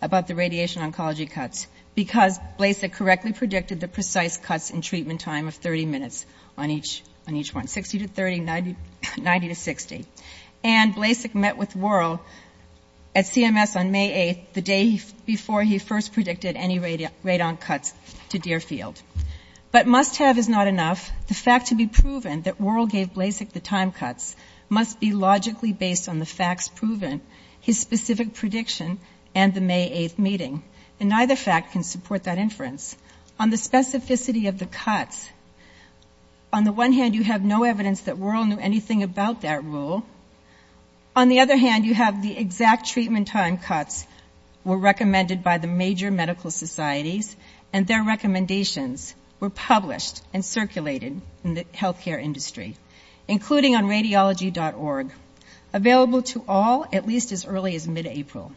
about the radiation oncology cuts because Blasek correctly predicted the precise cuts in treatment time of 30 minutes on each one, 60 to 30, 90 to 60. And Blasek met with Wuerl at CMS on May 8th, the day before he first predicted any radon cuts to Deerfield. But must have is not enough. The fact to be proven that Wuerl gave Blasek the time cuts must be logically based on the facts proven, his specific prediction, and the May 8th meeting. And neither fact can support that inference. On the specificity of the cuts, on the one hand, you have no evidence that Wuerl knew anything about that rule. On the other hand, you have the exact treatment time cuts were recommended by the major medical societies and their recommendations were published and circulated in the healthcare industry, including on radiology.org, available to all at least as early as mid-April,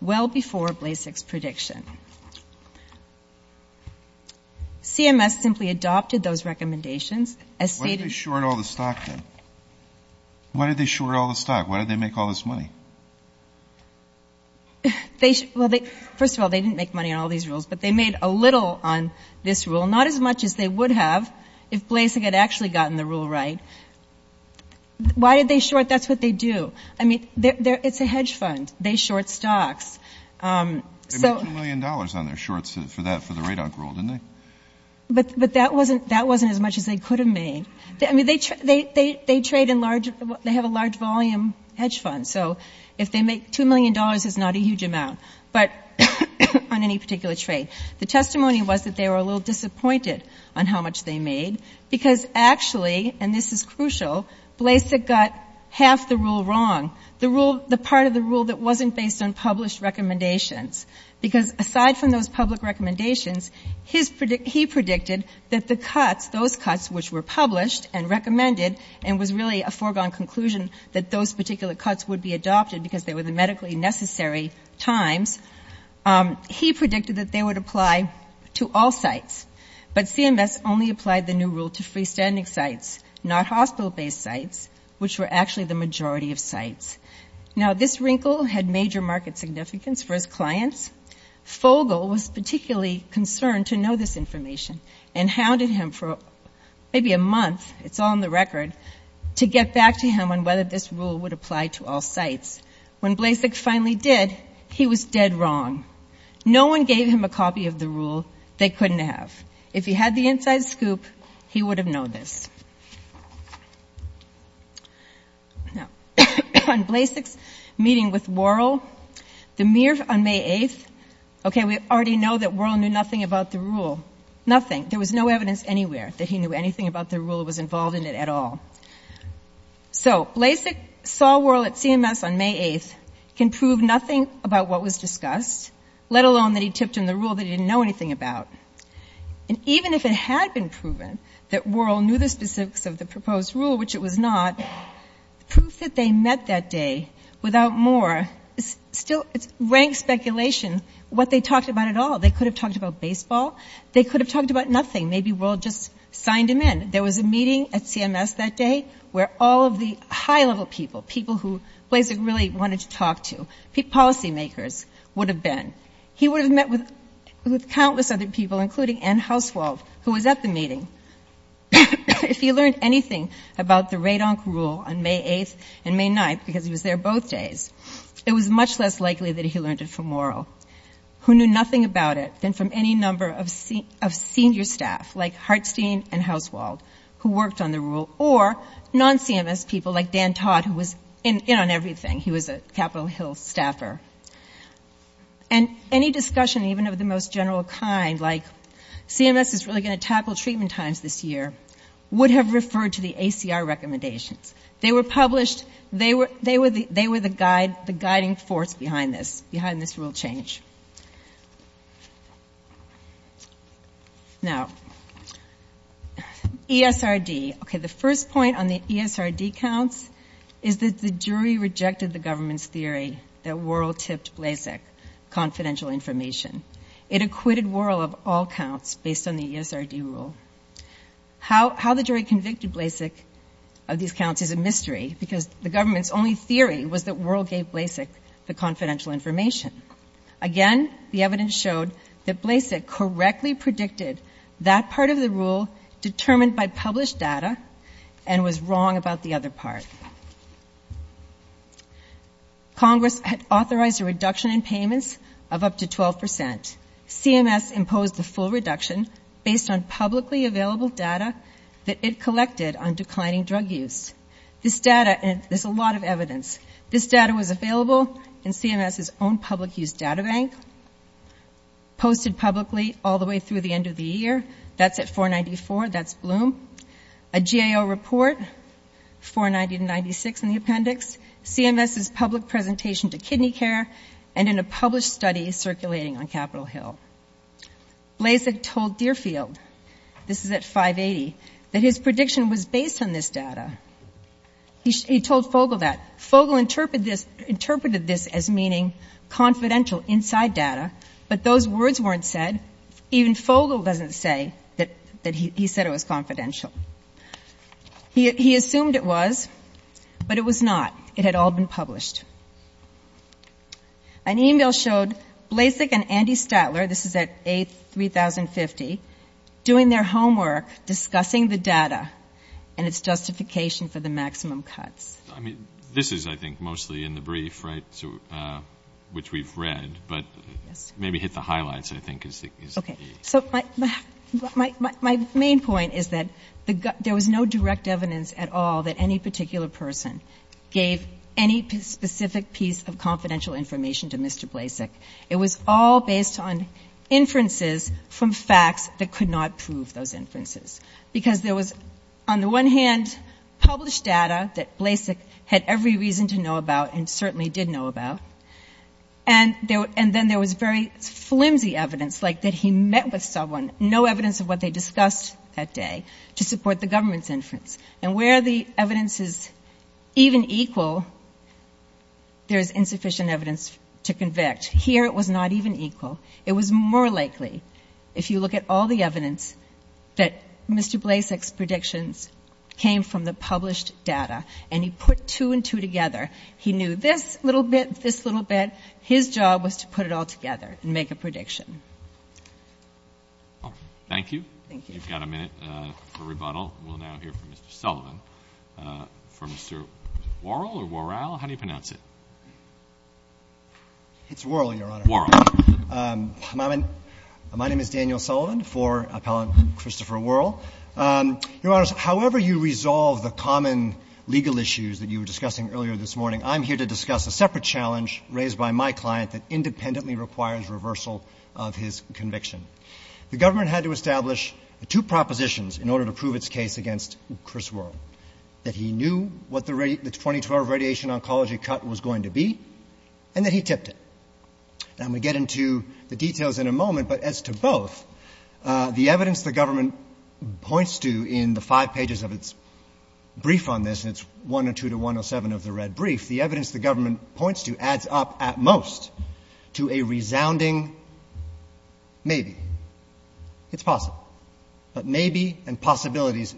well before Blasek's prediction. CMS simply adopted those recommendations as stated. Why did they short all the stock then? Why did they short all the stock? Why did they make all this money? Well, first of all, they didn't make money on all these rules, but they made a little on this rule, not as much as they would have if Blasek had actually gotten the rule right. Why did they short? That's what they do. I mean, it's a hedge fund. They short stocks. They made $2 million on their shorts for that, for the radon rule, didn't they? But that wasn't as much as they could have made. I mean, they trade in large, they have a large volume hedge fund. So if they make $2 million, it's not a huge amount, but on any particular trade. The testimony was that they were a little disappointed on how much they made because actually, and this is crucial, Blasek got half the rule wrong, the part of the rule that wasn't based on published recommendations because aside from those public recommendations, he predicted that the cuts, those cuts which were published and recommended and was really a foregone conclusion that those particular cuts would be adopted because they were the medically necessary times, he predicted that they would apply to all sites. But CMS only applied the new rule to freestanding sites, not hospital-based sites, which were actually the majority of sites. Now, this wrinkle had major market significance for his clients. Fogle was particularly concerned to know this information and hounded him for maybe a month, it's on the record, to get back to him on whether this rule would apply to all sites. When Blasek finally did, he was dead wrong. No one gave him a copy of the rule they couldn't have. If he had the inside scoop, he would have known this. Now, on Blasek's meeting with Worrell, on May 8th, okay, we already know that Worrell knew nothing about the rule, nothing. There was no evidence anywhere that he knew anything about the rule that was involved in it at all. So, Blasek saw Worrell at CMS on May 8th, can prove nothing about what was discussed, let alone that he chipped in the rule that he didn't know anything about. And even if it had been proven that Worrell knew the specifics of the proposed rule, which it was not, proof that they met that day without more still ranks speculation what they talked about at all. They could have talked about baseball. They could have talked about nothing. Maybe Worrell just signed him in. There was a meeting at CMS that day where all of the high-level people, people who Blasek really wanted to talk to, policymakers, would have been. He would have met with countless other people, including Anne Hauswald, who was at the meeting. If he learned anything about the Radonc rule on May 8th and May 9th, because he was there both days, it was much less likely that he learned it from Worrell, who knew nothing about it than from any number of senior staff, like Hartstein and Hauswald, who worked on the rule, or non-CMS people like Dan Todd, who was in on everything. He was a Capitol Hill staffer. And any discussion, even of the most general kind, like CMS is really going to tackle treatment times this year, would have referred to the ACR recommendation. They were published, they were the guiding force behind this, behind this rule change. Now, ESRD. Okay, the first point on the ESRD counts is that the jury rejected the government's theory that Worrell tipped Blasek confidential information. It acquitted Worrell of all counts based on the ESRD rule. How the jury convicted Blasek of these counts is a mystery, because the government's only theory was that Worrell gave Blasek the confidential information. Again, the evidence showed that Blasek correctly predicted that part of the rule, determined by published data, and was wrong about the other parts. Congress had authorized a reduction in payments of up to 12%. CMS imposed a full reduction based on publicly available data that it collected on declining drug use. This data, and there's a lot of evidence, this data was available in CMS's own public use data bank, posted publicly all the way through the end of the year. That's at 494, that's Bloom. A GAO report, 490 to 96 in the appendix, CMS's public presentation to Kidney Care, and in a published study circulating on Capitol Hill. Blasek told Deerfield, this is at 580, that his prediction was based on this data. He told Fogle that. Fogle interpreted this as meaning confidential inside data, but those words weren't said. Even Fogle doesn't say that he said it was confidential. He assumed it was, but it was not. It had all been published. An email showed Blasek and Andy Statler, this is at 8, 3050, doing their homework, discussing the data and its justification for the maximum cuts. I mean, this is, I think, mostly in the brief, right, which we've read, but maybe hit the highlights, I think, is the key. My main point is that there was no direct evidence at all that any particular person gave any specific piece of confidential information to Mr. Blasek. It was all based on inferences from facts that could not prove those inferences. Because there was, on the one hand, published data that Blasek had every reason to know about and certainly did know about, and then there was very flimsy evidence, like that he met with someone, no evidence of what they discussed that day, to support the government's inference. And where the evidence is even equal, there is insufficient evidence to convict. Here it was not even equal. It was more likely, if you look at all the evidence, that Mr. Blasek's predictions came from the published data, and he put two and two together. He knew this little bit, this little bit. His job was to put it all together and make a prediction. Thank you. Thank you. We've got a minute for rebuttal. We'll now hear from Mr. Sullivan. From Mr. Worrell or Worrell, how do you pronounce it? It's Worrell, Your Honor. Worrell. My name is Daniel Sullivan for a colleague, Christopher Worrell. Your Honor, however you resolve the common legal issues that you were discussing earlier this morning, I'm here to discuss a separate challenge raised by my client that independently requires reversal of his conviction. The government had to establish two propositions in order to prove its case against Chris Worrell, that he knew what the 2012 radiation oncology cut was going to be, and that he tipped it. And we'll get into the details in a moment, but as to both, the evidence the government points to in the five pages of its brief on this, and it's 102 to 107 of the red brief, the evidence the government points to adds up at most to a resounding maybe. It's possible. But maybe and possibilities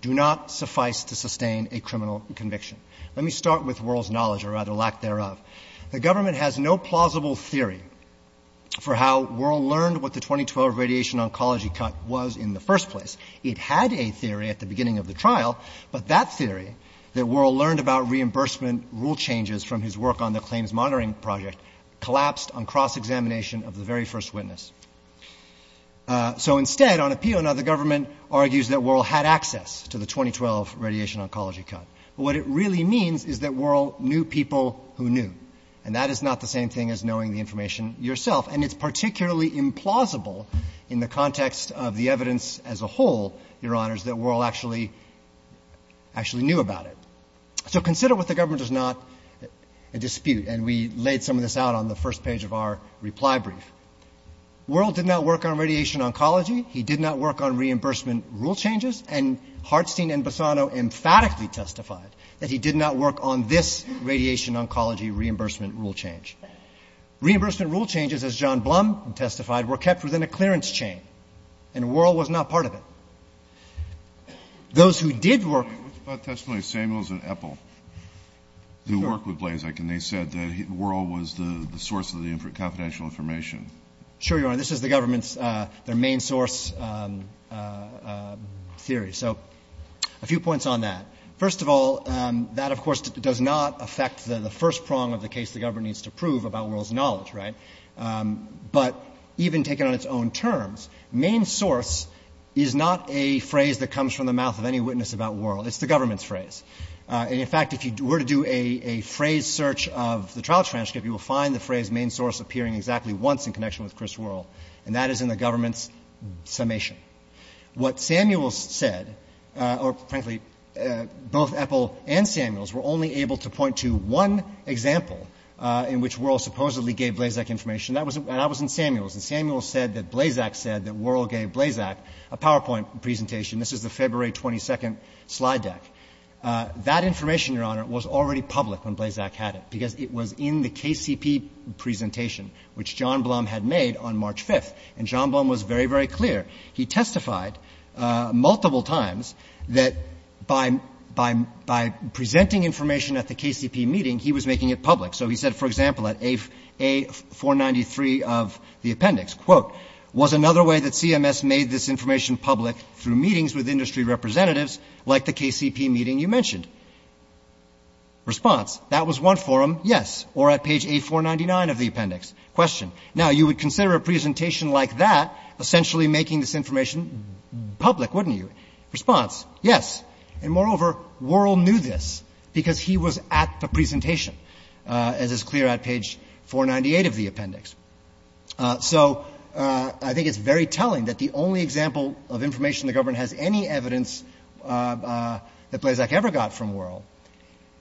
do not suffice to sustain a criminal conviction. Let me start with Worrell's knowledge, or rather lack thereof. The government has no plausible theory for how Worrell learned what the 2012 radiation oncology cut was in the first place. It had a theory at the beginning of the trial, but that theory, that Worrell learned about reimbursement rule changes from his work on the claims monitoring project, collapsed on cross-examination of the very first witness. So instead, on appeal, now the government argues that Worrell had access to the 2012 radiation oncology cut. What it really means is that Worrell knew people who knew, and that is not the same thing as knowing the information yourself, and it's particularly implausible in the context of the evidence as a whole, your honors, that Worrell actually knew about it. So consider what the government does not a dispute, and we laid some of this out on the first page of our reply brief. Worrell did not work on radiation oncology. He did not work on reimbursement rule changes, and Hartstein and Bassano emphatically testified that he did not work on this radiation oncology reimbursement rule change. Reimbursement rule changes, as John Blum testified, were kept within a clearance chain, and Worrell was not part of it. Those who did work... Worrell was the source of the confidential information. Sure, your honor. This is the government's main source theory. So a few points on that. First of all, that, of course, does not affect the first prong of the case the government needs to prove about Worrell's knowledge, right? But even taken on its own terms, main source is not a phrase that comes from the mouth of any witness about Worrell. It's the government's phrase. In fact, if you were to do a phrase search of the trial transcript, you will find the phrase main source appearing exactly once in connection with Chris Worrell, and that is in the government's summation. What Samuels said, or frankly both Ethel and Samuels, were only able to point to one example in which Worrell supposedly gave Blazak information, and that was in Samuels, and Samuels said that Blazak said that Worrell gave Blazak a PowerPoint presentation. This is the February 22nd slide deck. That information, your honor, was already public when Blazak had it because it was in the KCP presentation, which John Blum had made on March 5th, and John Blum was very, very clear. He testified multiple times that by presenting information at the KCP meeting, he was making it public. So he said, for example, at A493 of the appendix, was another way that CMS made this information public through meetings with industry representatives, like the KCP meeting you mentioned? Response, that was one forum, yes, or at page A499 of the appendix. Question, now you would consider a presentation like that essentially making this information public, wouldn't you? Response, yes, and moreover, Worrell knew this because he was at the presentation, as is clear at page 498 of the appendix. So I think it's very telling that the only example of information the government has any evidence that Blazak ever got from Worrell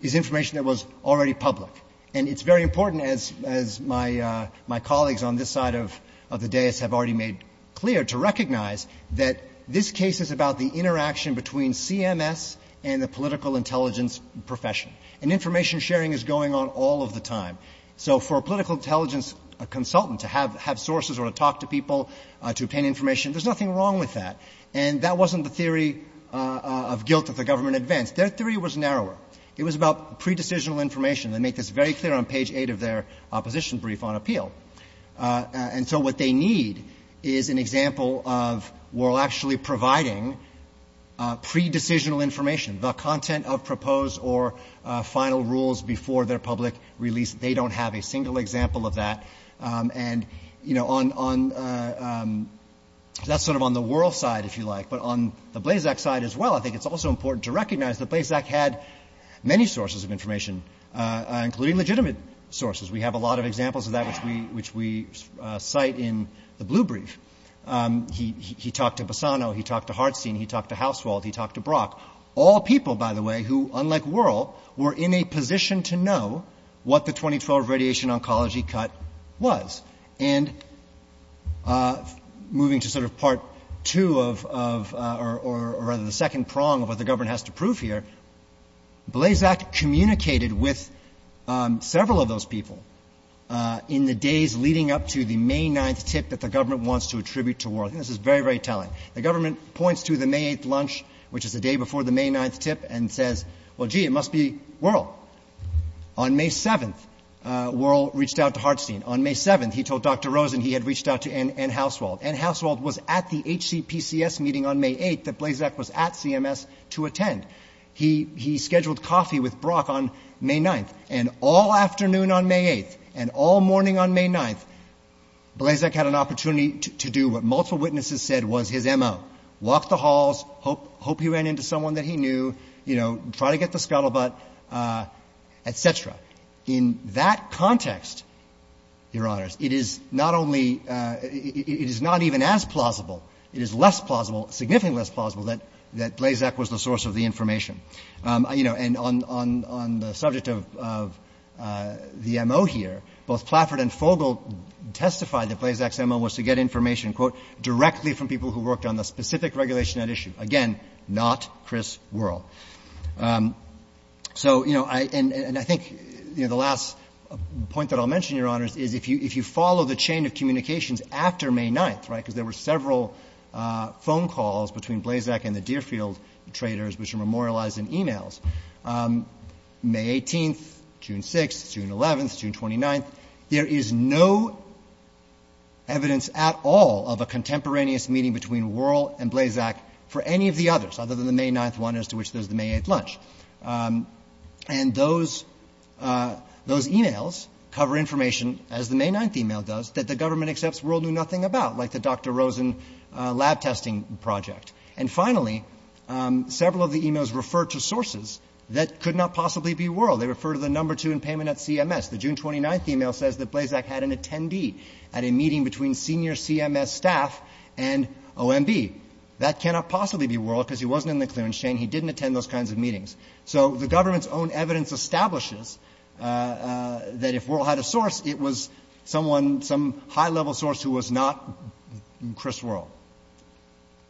is information that was already public. And it's very important, as my colleagues on this side of the dais have already made clear, to recognize that this case is about the interaction between CMS and the political intelligence profession. And information sharing is going on all of the time. So for a political intelligence consultant to have sources or to talk to people to obtain information, there's nothing wrong with that. And that wasn't the theory of guilt if the government advanced. Their theory was narrower. It was about pre-decisional information. They make this very clear on page 8 of their opposition brief on appeal. And so what they need is an example of Worrell actually providing pre-decisional information, the content of proposed or final rules before their public release. They don't have a single example of that. And, you know, that's sort of on the Worrell side, if you like. But on the Blazak side as well, I think it's also important to recognize that Blazak had many sources of information, including legitimate sources. We have a lot of examples of that, which we cite in the blue brief. He talked to Bassano. He talked to Hartstein. He talked to Hauswald. He talked to Brock. All people, by the way, who, unlike Worrell, were in a position to know what the 2012 radiation oncology cut was. And moving to sort of part two of, or rather the second prong of what the government has to prove here, Blazak communicated with several of those people in the days leading up to the May 9th tip that the government wants to attribute to Worrell. And this is very, very telling. The government points to the May 8th lunch, which is the day before the May 9th tip, and says, well, gee, it must be Worrell. On May 7th, Worrell reached out to Hartstein. On May 7th, he told Dr. Rosen he had reached out to N. Hauswald. N. Hauswald was at the HCPCS meeting on May 8th that Blazak was at CMS to attend. He scheduled coffee with Brock on May 9th. And all afternoon on May 8th and all morning on May 9th, Blazak had an opportunity to do what multiple witnesses said was his MO, walk the halls, hope he ran into someone that he knew, try to get the scuttlebutt, et cetera. In that context, Your Honors, it is not even as plausible, it is less plausible, significantly less plausible that Blazak was the source of the information. And on the subject of the MO here, both Plaffert and Fogle testified that Blazak's MO was to get information, quote, directly from people who worked on the specific regulation at issue. Again, not Chris Worrell. And I think the last point that I'll mention, Your Honors, is if you follow the chain of communications after May 9th, because there were several phone calls between Blazak and the Deerfield traders which were memorialized in e-mails, May 18th, June 6th, June 11th, June 29th, there is no evidence at all of a contemporaneous meeting between Worrell and Blazak for any of the others, other than the May 9th one as to which there's the May 8th lunch. And those e-mails cover information, as the May 9th e-mail does, that the government accepts Worrell knew nothing about, like the Dr. Rosen lab testing project. And finally, several of the e-mails refer to sources that could not possibly be Worrell. They refer to the number two in payment at CMS. The June 29th e-mail says that Blazak had an attendee at a meeting between senior CMS staff and OMB. That cannot possibly be Worrell because he wasn't in the clearance chain. He didn't attend those kinds of meetings. So the government's own evidence establishes that if Worrell had a source, it was someone, some high-level source who was not Chris Worrell.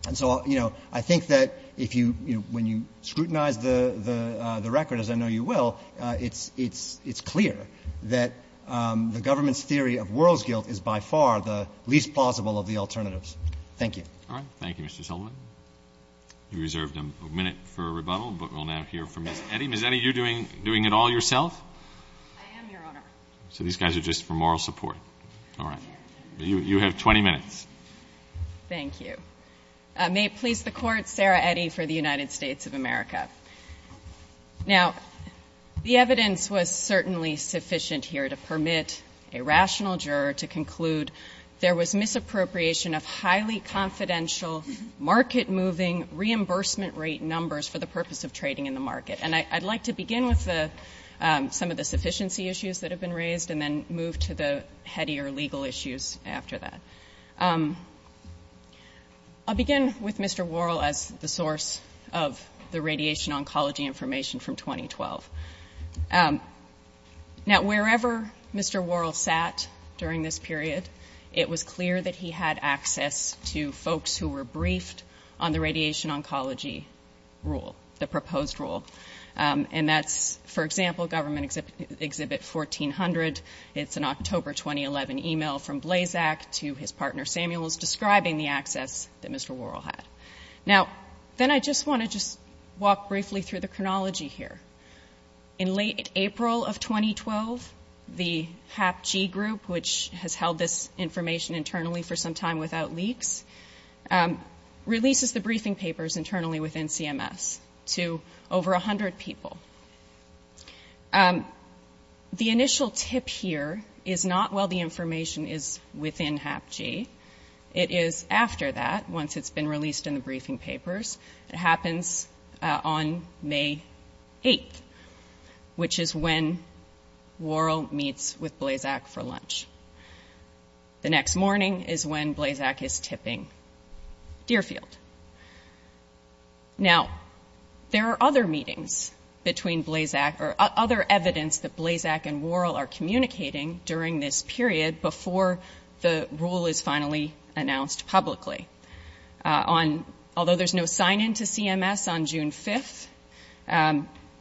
And so, you know, I think that if you, when you scrutinize the records, I know you will, it's clear that the government's theory of Worrell's guilt is by far the least plausible of the alternatives. Thank you. All right. Thank you, Mr. Shulman. We reserved a minute for rebuttal, but we'll now hear from Eddie. Is any of you doing it all yourself? I am, Your Honor. So these guys are just for moral support. All right. You have 20 minutes. Thank you. May it please the Court, Sarah Eddie for the United States of America. Now, the evidence was certainly sufficient here to permit a rational juror to conclude there was misappropriation of highly confidential, market-moving reimbursement rate numbers for the purpose of trading in the market. And I'd like to begin with some of the sufficiency issues that have been raised and then move to the headier legal issues after that. I'll begin with Mr. Worrell as the source of the radiation oncology information from 2012. Now, wherever Mr. Worrell sat during this period, it was clear that he had access to folks who were briefed on the radiation oncology rule, the proposed rule. And that's, for example, Government Exhibit 1400. It's an October 2011 email from Blazak to his partner, Samuel, describing the access that Mr. Worrell had. Now, then I just want to just walk briefly through the chronology here. In late April of 2012, the HAPG group, which has held this information internally for some time without leaks, releases the briefing papers internally within CMS to over 100 people. The initial tip here is not, well, the information is within HAPG. It is after that, once it's been released in the briefing papers, it happens on May 8th, which is when Worrell meets with Blazak for lunch. The next morning is when Blazak is tipping Deerfield. Now, there are other meetings between Blazak or other evidence that Blazak and Worrell are communicating during this period before the rule is finally announced publicly. Although there's no sign-in to CMS on June 5th,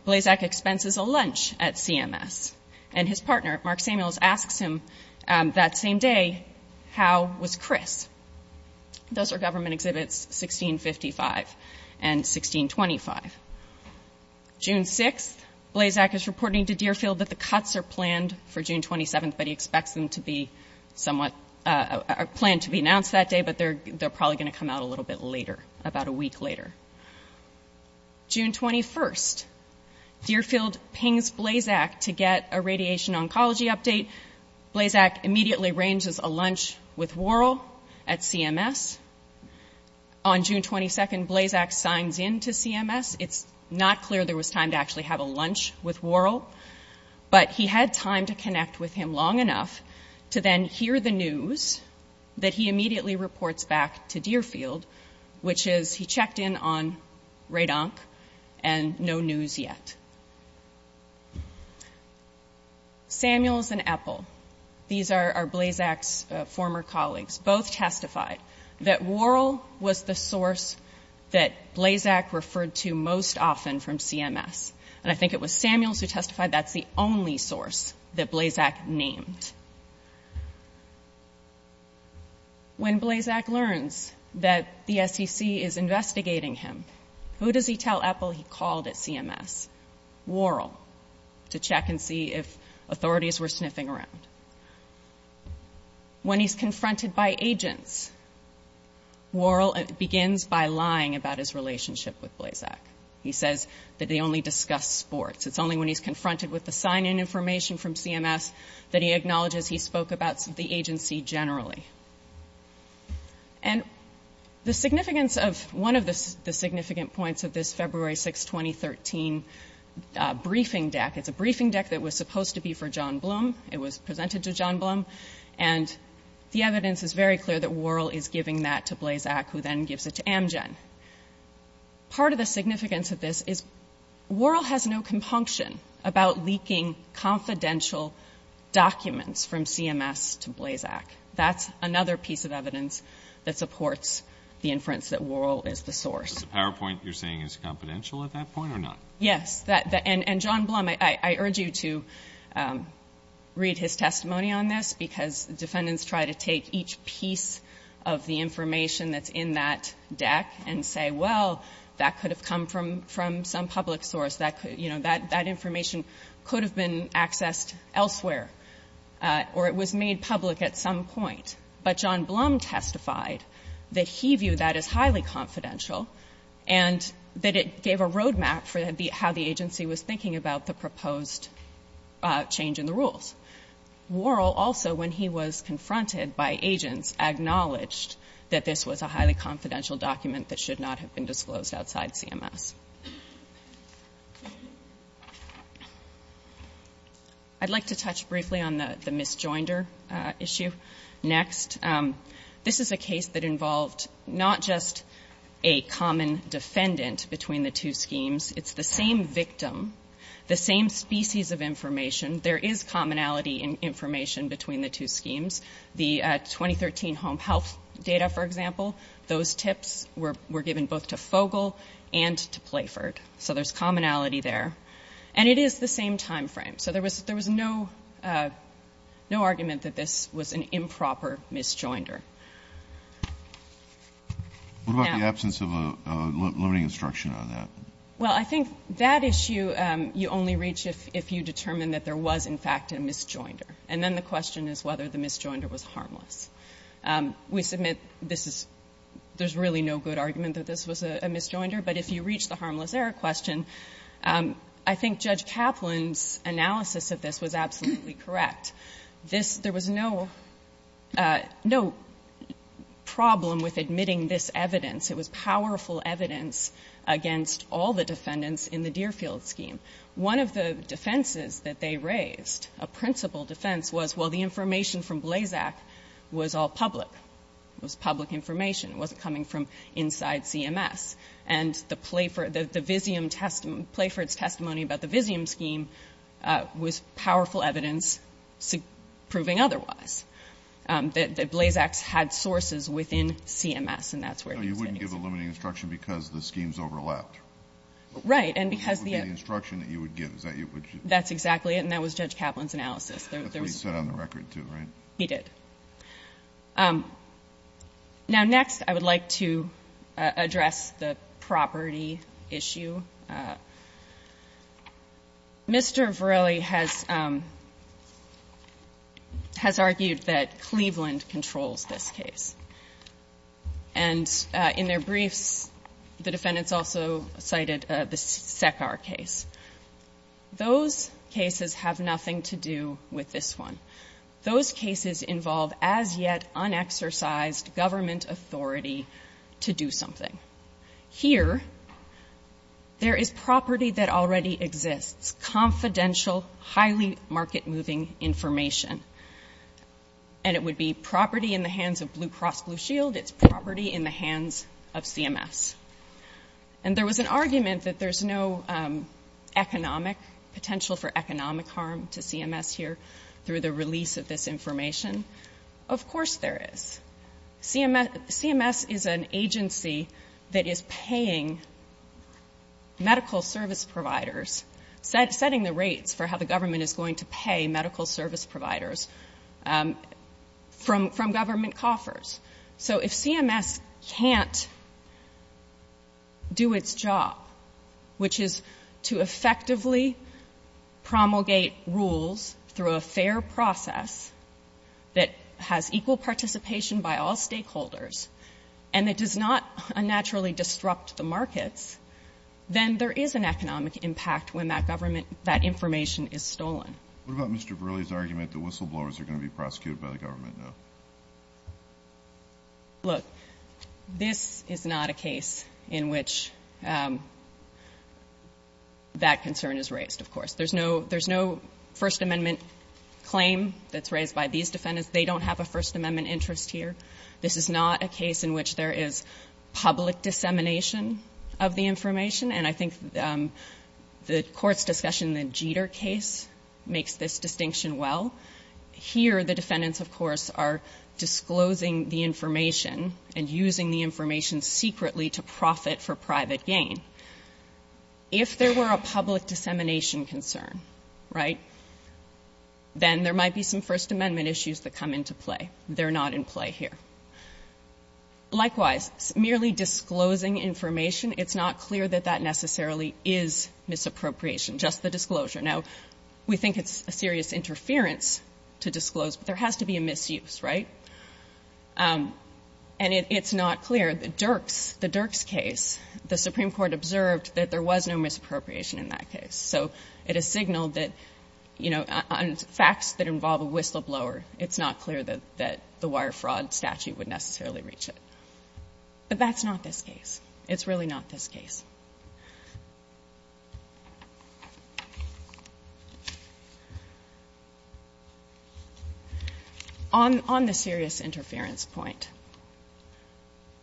Blazak expenses a lunch at CMS. And his partner, Mark Samuels, asks him that same day, how was Chris? Those are Government Exhibits 1655 and 1625. June 6th, Blazak is reporting to Deerfield that the cuts are planned for June 27th, but he expects them to be somewhat planned to be announced that day, but they're probably going to come out a little bit later, about a week later. June 21st, Deerfield pings Blazak to get a radiation oncology update. Blazak immediately arranges a lunch with Worrell at CMS. On June 22nd, Blazak signs in to CMS. It's not clear there was time to actually have a lunch with Worrell, but he had time to connect with him long enough to then hear the news that he immediately reports back to Deerfield, which is he checked in on radonc and no news yet. Samuels and Eppel, these are Blazak's former colleagues, both testified. That Worrell was the source that Blazak referred to most often from CMS, and I think it was Samuels who testified that's the only source that Blazak named. When Blazak learns that the SEC is investigating him, who does he tell Eppel he called at CMS? Worrell, to check and see if authorities were sniffing around. When he's confronted by agents, Worrell begins by lying about his relationship with Blazak. He says that they only discussed sports. It's only when he's confronted with the sign-in information from CMS that he acknowledges he spoke about the agency generally. And the significance of one of the significant points of this February 6, 2013 briefing deck, it's a briefing deck that was supposed to be for John Bloom. It was presented to John Bloom, and the evidence is very clear that Worrell is giving that to Blazak, who then gives it to Amgen. Part of the significance of this is Worrell has no compunction about leaking confidential documents from CMS to Blazak. That's another piece of evidence that supports the inference that Worrell is the source. The PowerPoint you're saying is confidential at that point or not? Yes. And John Bloom, I urge you to read his testimony on this, because defendants try to take each piece of the information that's in that deck and say, well, that could have come from some public source, that information could have been accessed elsewhere, or it was made public at some point. But John Bloom testified that he viewed that as highly confidential and that it gave a roadmap for how the agency was thinking about the proposed change in the rules. Worrell also, when he was confronted by agents, acknowledged that this was a highly confidential document that should not have been disclosed outside CMS. I'd like to touch briefly on the misjoinder issue next. This is a case that involved not just a common defendant between the two schemes, it's the same victim, the same species of information. There is commonality in information between the two schemes. The 2013 home health data, for example, those tips were given both to Fogel and to Blazak. So there's commonality there. And it is the same time frame. So there was no argument that this was an improper misjoinder. What about the absence of a limiting instruction on that? Well, I think that issue you only reach if you determine that there was, in fact, a misjoinder. And then the question is whether the misjoinder was harmless. We submit there's really no good argument that this was a misjoinder, but if you reach the harmless error question, I think Judge Kaplan's analysis of this was absolutely correct. There was no problem with admitting this evidence. It was powerful evidence against all the defendants in the Deerfield scheme. One of the defenses that they raised, a principal defense, was, well, the information from Blazak was all public. It was public information. It wasn't coming from inside CMS. And the Playford's testimony about the Vizium scheme was powerful evidence proving otherwise. Blazak had sources within CMS, and that's where it came from. So you wouldn't give a limiting instruction because the schemes overlapped? Right. And because the other instruction that you would give, is that what you did? That's exactly it, and that was Judge Kaplan's analysis. That's what he said on the record, too, right? He did. Now, next, I would like to address the property issue. Mr. Varelli has argued that Cleveland controls this case. And in their brief, the defendants also cited the Sephar case. Those cases have nothing to do with this one. Those cases involve, as yet, unexercised government authority to do something. Here, there is property that already exists, confidential, highly market-moving information. And it would be property in the hands of Blue Cross Blue Shield. It's property in the hands of CMS. And there was an argument that there's no potential for economic harm to CMS here, through the release of this information. Of course there is. CMS is an agency that is paying medical service providers, setting the rate for how the government is going to pay medical service providers, from government coffers. So if CMS can't do its job, which is to effectively promulgate rules through a fair process that has equal participation by all stakeholders, and it does not unnaturally disrupt the markets, then there is an economic impact when that information is stolen. What about Mr. Burley's argument that whistleblowers are going to be prosecuted by the government? Look, this is not a case in which that concern is raised, of course. There's no First Amendment claim that's raised by these defendants. They don't have a First Amendment interest here. This is not a case in which there is public dissemination of the information. And I think the court's discussion in the Jeter case makes this distinction well. Here the defendants, of course, are disclosing the information and using the information secretly to profit for private gain. If there were a public dissemination concern, right, then there might be some First Amendment issues that come into play. They're not in play here. Likewise, merely disclosing information, it's not clear that that necessarily is misappropriation, just the disclosure. Now, we think it's a serious interference to disclose, but there has to be a misuse, right? And it's not clear. The Dirks case, the Supreme Court observed that there was no misappropriation in that case. So it is a signal that, you know, facts that involve a whistleblower, it's not clear that the wire fraud statute would necessarily reach it. But that's not this case. It's really not this case. On the serious interference point,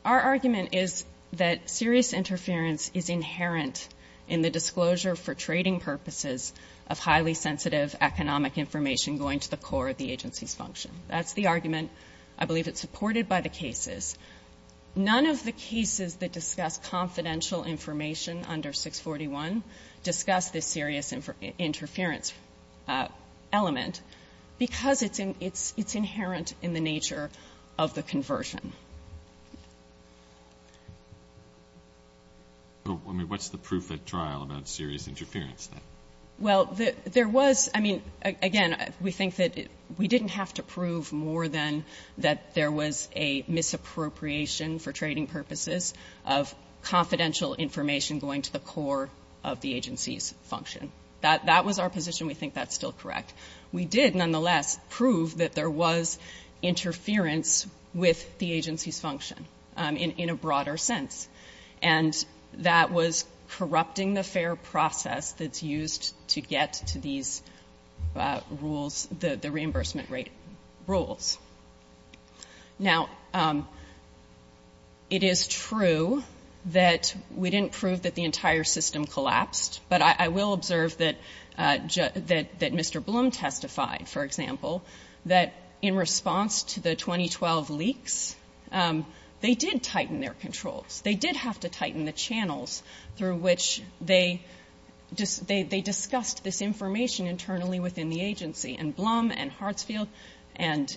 our argument is that serious interference is inherent in the disclosure for trading purposes of highly sensitive economic information going to the core of the agency's function. That's the argument. I believe it's supported by the cases. None of the cases that discuss confidential information under 641 discuss this serious interference element because it's inherent in the nature of the conversion. I mean, what's the proof of trial about serious interference? Well, there was, I mean, again, we think that we didn't have to prove more than that there was a misappropriation for trading purposes of confidential information going to the core of the agency's function. That was our position. We think that's still correct. We did, nonetheless, prove that there was interference with the agency's function in a broader sense, and that was corrupting the fair process that's used to get to these rules, the reimbursement rate rules. Now, it is true that we didn't prove that the entire system collapsed, but I will observe that Mr. Blum testified, for example, that in response to the 2012 leaks, they did tighten their controls. They did have to tighten the channels through which they discussed this information internally within the agency, and Blum and Hartsfield and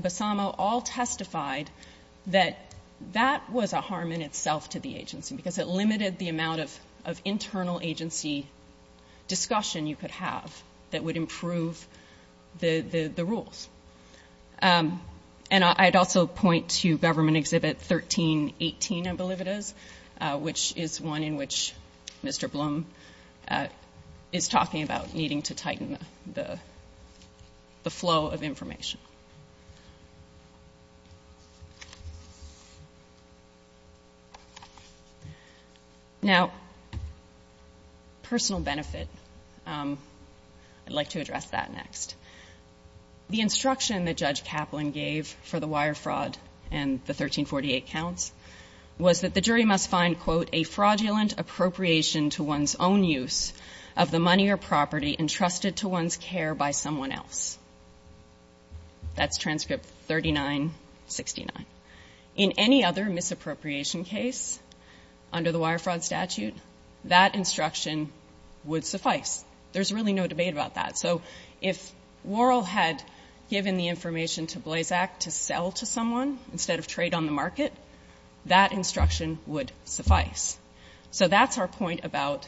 Bassamo all testified that that was a harm in itself to the agency because it limited the amount of internal agency discussion you could have that would improve the rules. And I'd also point to Government Exhibit 1318, I believe it is, which is one in which Mr. Blum is talking about needing to tighten the flow of information. Now, personal benefit, I'd like to address that next. The instruction that Judge Kaplan gave for the wire fraud and the 1348 counts was that the jury must find, quote, a fraudulent appropriation to one's own use of the money or property entrusted to one's care by someone else. That's transcript 3969. In any other misappropriation case under the wire fraud statute, that instruction would suffice. There's really no debate about that. So if Worrell had given the information to Blazak to sell to someone instead of trade on the market, that instruction would suffice. So that's our point about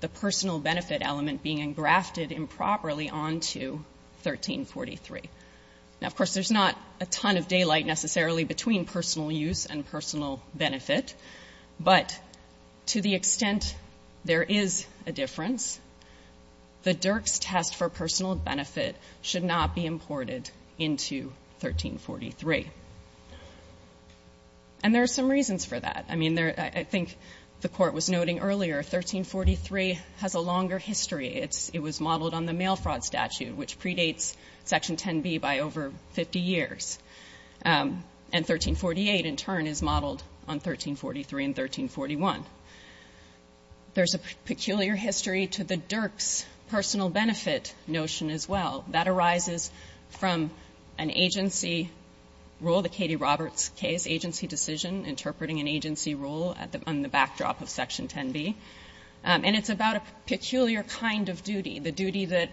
the personal benefit element being engrafted improperly onto 1343. Now, of course, there's not a ton of daylight necessarily between personal use and personal benefit, but to the extent there is a difference, the Dirk's test for personal benefit should not be imported into 1343. And there are some reasons for that. I mean, I think the court was noting earlier, 1343 has a longer history. It was modeled on the mail fraud statute, which predates Section 10B by over 50 years. And 1348, in turn, is modeled on 1343 and 1341. There's a peculiar history to the Dirk's personal benefit notion as well. That arises from an agency rule, the Katie Roberts case, agency decision, interpreting an agency rule on the backdrop of Section 10B. And it's about a peculiar kind of duty, the duty that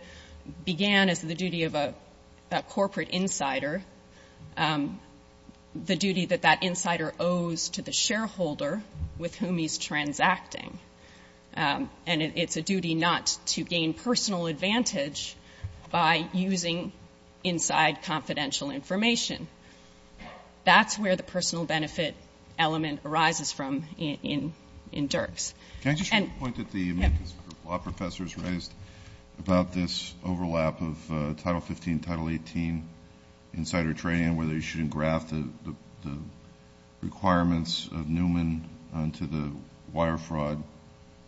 began as the duty of a corporate insider, the duty that that insider owes to the shareholder with whom he's transacting. And it's a duty not to gain personal advantage by using inside confidential information. That's where the personal benefit element arises from in Dirk's. Can I just make a point that the law professors raised about this overlap of Title 15, Title 18, insider trading, where they shouldn't graft the requirements of Newman onto the wire fraud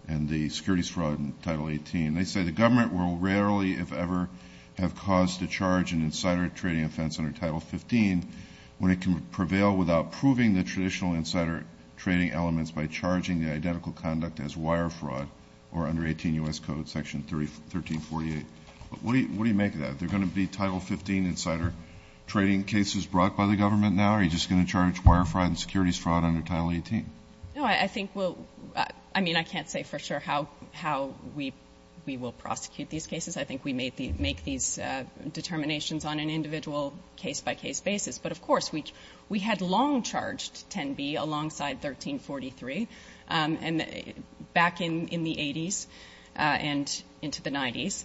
and the securities fraud in Title 18. They say the government will rarely, if ever, have cause to charge an insider trading offense under Title 15 when it can prevail without proving the traditional insider trading elements by charging the identical conduct as wire fraud or under 18 U.S. Code Section 1348. What do you make of that? Are there going to be Title 15 insider trading cases brought by the government now, or are you just going to charge wire fraud and securities fraud under Title 18? No, I think we'll – I mean, I can't say for sure how we will prosecute these cases. I think we may make these determinations on an individual case-by-case basis. But, of course, we had long charged Kenby alongside 1343 back in the 80s and into the 90s.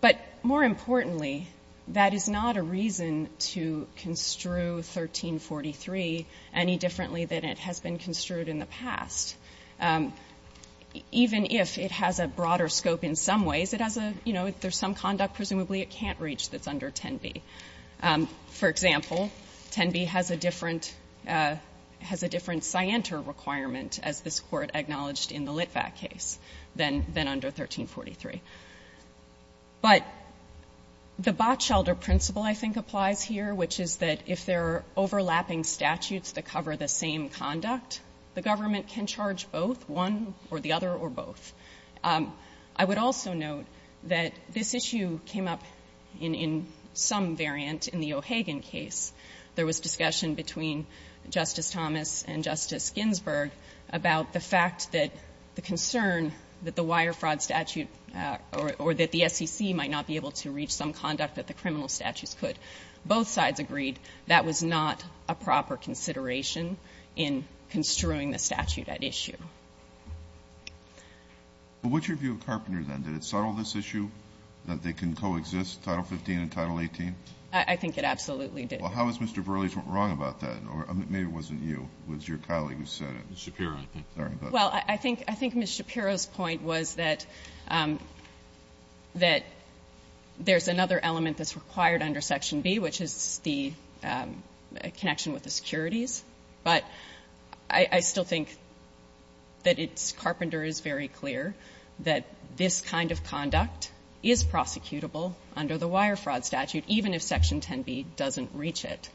But more importantly, that is not a reason to construe 1343 any differently than it has been construed in the past, even if it has a broader scope in some ways. It has a – you know, if there's some conduct presumably it can't reach that's under Kenby. For example, Kenby has a different scienter requirement, as this Court acknowledged in the Litvak case, than under 1343. But the Botschelder principle, I think, applies here, which is that if there are overlapping statutes that cover the same conduct, the government can charge both, one or the other or both. I would also note that this issue came up in some variant in the O'Hagan case. There was discussion between Justice Thomas and Justice Ginsburg about the fact that the concern that the wire fraud statute or that the SEC might not be able to reach some conduct that the criminal statute could. Both sides agreed that was not a proper consideration in construing the statute at issue. Well, what's your view of Carpenter, then? Did it settle this issue that they can coexist, Title 15 and Title 18? I think it absolutely did. Well, how is Mr. Burleigh wrong about that? Or maybe it wasn't you. It was your colleague who said it. Well, I think Ms. Shapiro's point was that there's another element that's required under Section B, which is the connection with the securities. But I still think that Carpenter is very clear that this kind of conduct is prosecutable under the wire fraud statute, even if Section 10B doesn't reach it.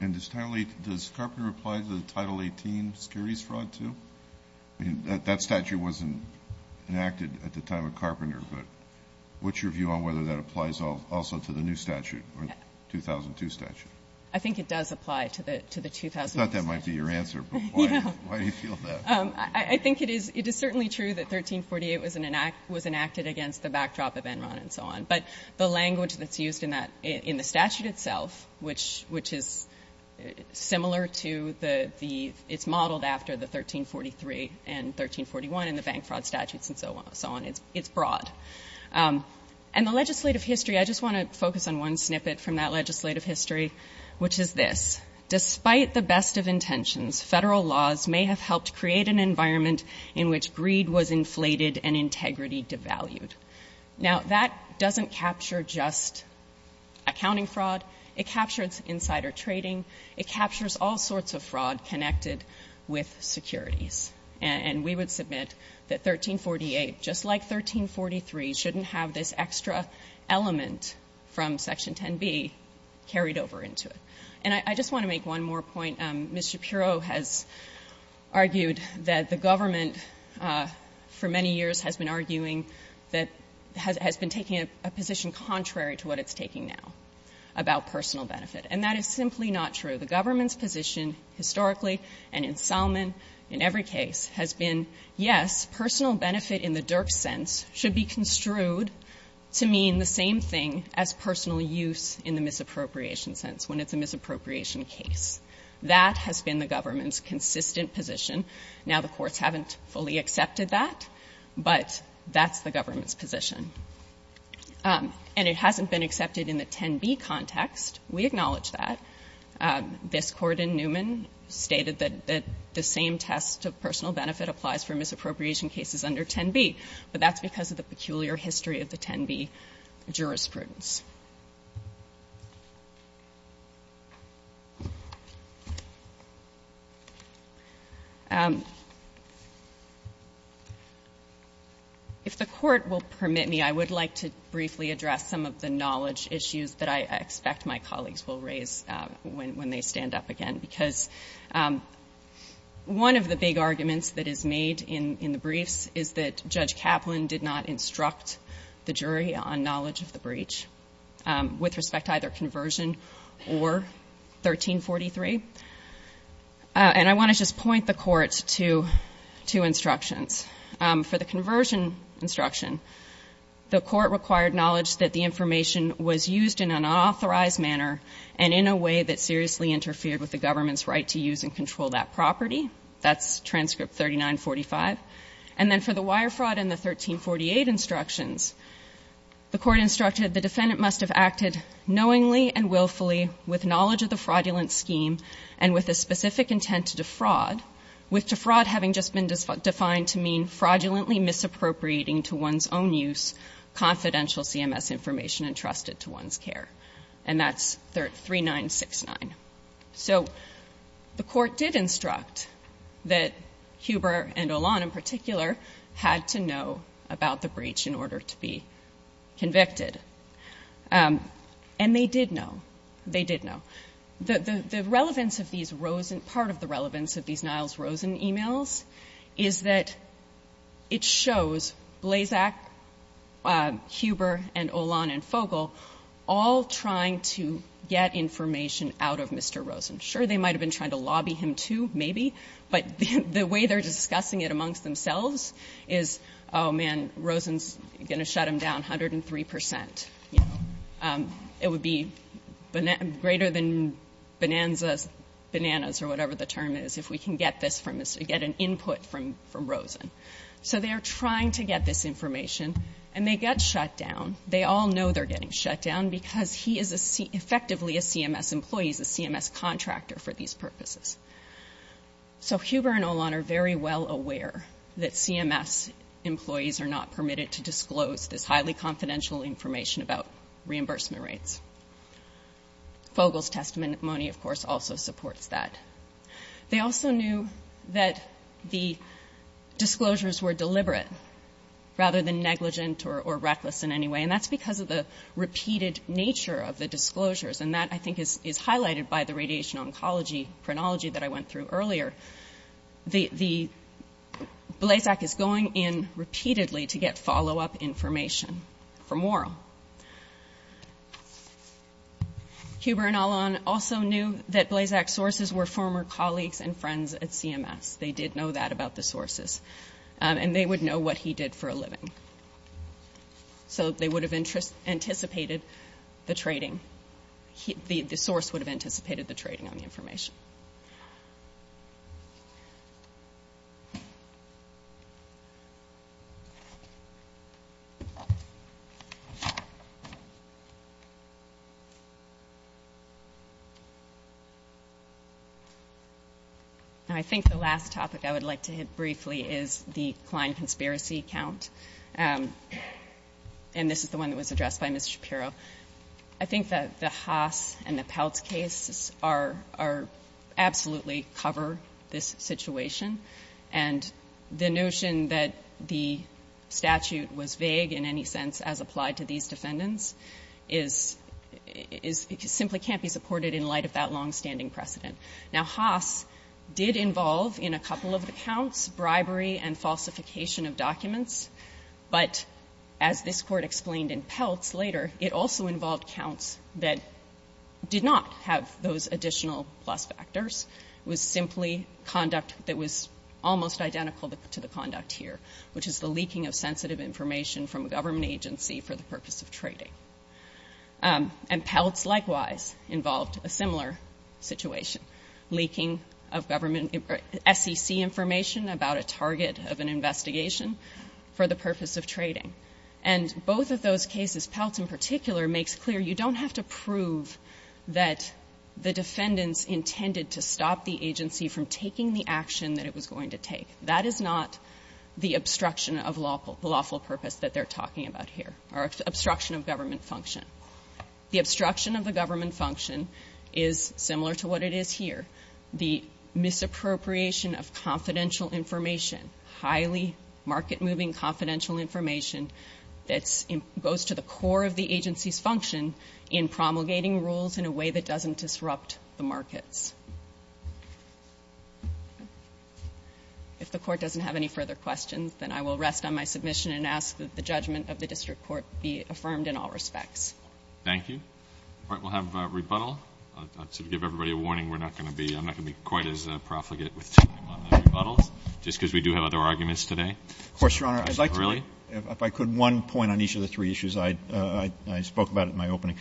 And does Carpenter apply to the Title 18 securities fraud, too? That statute wasn't enacted at the time of Carpenter, but what's your view on whether that applies also to the new statute, the 2002 statute? I think it does apply to the 2002 statute. I thought that might be your answer, but why do you feel that? I think it is certainly true that 1348 was enacted against the backdrop of Enron and so on. But the language that's used in the statute itself, which is similar to the 1343 and 1341 and the bank fraud statutes and so on, it's broad. And the legislative history, I just want to focus on one snippet from that legislative history, which is this. Despite the best of intentions, federal laws may have helped create an environment in which greed was inflated and integrity devalued. Now, that doesn't capture just accounting fraud. It captures insider trading. It captures all sorts of fraud connected with securities. And we would submit that 1348, just like 1343, shouldn't have this extra element from Section 10B carried over into it. And I just want to make one more point. Ms. Shapiro has argued that the government for many years has been taking a position contrary to what it's taking now about personal benefit. And that is simply not true. The government's position historically and in Selman, in every case, has been, yes, personal benefit in the Dirk sense should be construed to mean the same thing as personal use in the misappropriation sense, when it's a misappropriation case. That has been the government's consistent position. Now, the courts haven't fully accepted that, but that's the government's position. And it hasn't been accepted in the 10B context. We acknowledge that. This court in Newman stated that the same test of personal benefit applies for misappropriation cases under 10B. But that's because of the peculiar history of the 10B jurisprudence. If the court will permit me, I would like to briefly address some of the knowledge issues that I expect my colleagues will raise when they stand up again. Because one of the big arguments that is made in the briefs is that Judge Kaplan did not instruct the jury on knowledge of the breach, with respect to either conversion or 1343. And I want to just point the court to two instructions. For the conversion instruction, the court required knowledge that the information was used in an unauthorized manner and in a way that seriously interfered with the government's right to use and control that property. That's transcript 3945. And then for the wire fraud and the 1348 instructions, the court instructed the defendant must have acted knowingly and willfully, with knowledge of the fraudulent scheme and with a specific intent to defraud, with defraud having just been defined to mean fraudulently misappropriating to one's own use confidential CMS information entrusted to one's care. And that's 3969. So the court did instruct that Huber and Olan, in particular, had to know about the breach in order to be convicted. And they did know. They did know. The relevance of these, part of the relevance of these Niles Rosen emails, is that it shows Blazak, Huber, and Olan, and Fogle all trying to get information out of Mr. Rosen. Sure, they might have been trying to lobby him, too, maybe, but the way they're discussing it amongst themselves is, oh, man, Rosen's going to shut him down 103 percent. It would be greater than bananas or whatever the term is, if we can get an input from Rosen. So they are trying to get this information, and they get shut down. They all know they're getting shut down because he is effectively a CMS employee, he's a CMS contractor for these purposes. So Huber and Olan are very well aware that CMS employees are not permitted to disclose this highly confidential information about reimbursement rates. Fogle's testimony, of course, also supports that. They also knew that the disclosures were deliberate rather than negligent or reckless in any way, and that's because of the repeated nature of the disclosures, and that, I think, is highlighted by the radiation oncology chronology that I went through earlier. Blazak is going in repeatedly to get follow-up information from Warren. Huber and Olan also knew that Blazak's sources were former colleagues and friends at CMS. They did know that about the sources, and they would know what he did for a living. So they would have anticipated the trading. The source would have anticipated the trading of the information. And I think the last topic I would like to hit briefly is the client conspiracy count, and this is the one that was addressed by Ms. Shapiro. I think that the Haas and the Peltz cases absolutely cover this situation, and the notion that the statute was vague in any sense as applied to these cases, simply can't be supported in light of that longstanding precedent. Now, Haas did involve in a couple of the counts bribery and falsification of documents, but as this court explained in Peltz later, it also involved counts that did not have those additional plus factors. It was simply conduct that was almost identical to the conduct here, which is the leaking of sensitive information from a government agency for the purpose of trading. And Peltz likewise involved a similar situation, leaking of government SEC information about a target of an investigation for the purpose of trading. And both of those cases, Peltz in particular, makes clear you don't have to prove that the defendant intended to stop the agency from taking the action that it was going to take. That is not the obstruction of lawful purpose that they're talking about here, or obstruction of government function. The obstruction of the government function is similar to what it is here, the misappropriation of confidential information, highly market-moving confidential information that goes to the core of the agency's function in promulgating rules in a way that doesn't disrupt the markets. If the Court doesn't have any further questions, then I will rest on my submission and ask that the judgment of the District Court be affirmed in all respects. Thank you. All right, we'll have a rebuttal. To give everybody a warning, I'm not going to be quite as profligate on the rebuttal, just because we do have other arguments today. Of course, Your Honor. Is that really? If I could, one point on each of the three issues. I spoke about it in my opening.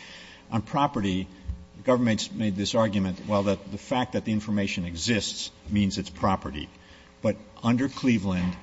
On property, the government's made this argument, well, that the fact that the information exists means it's property. But under Cleveland,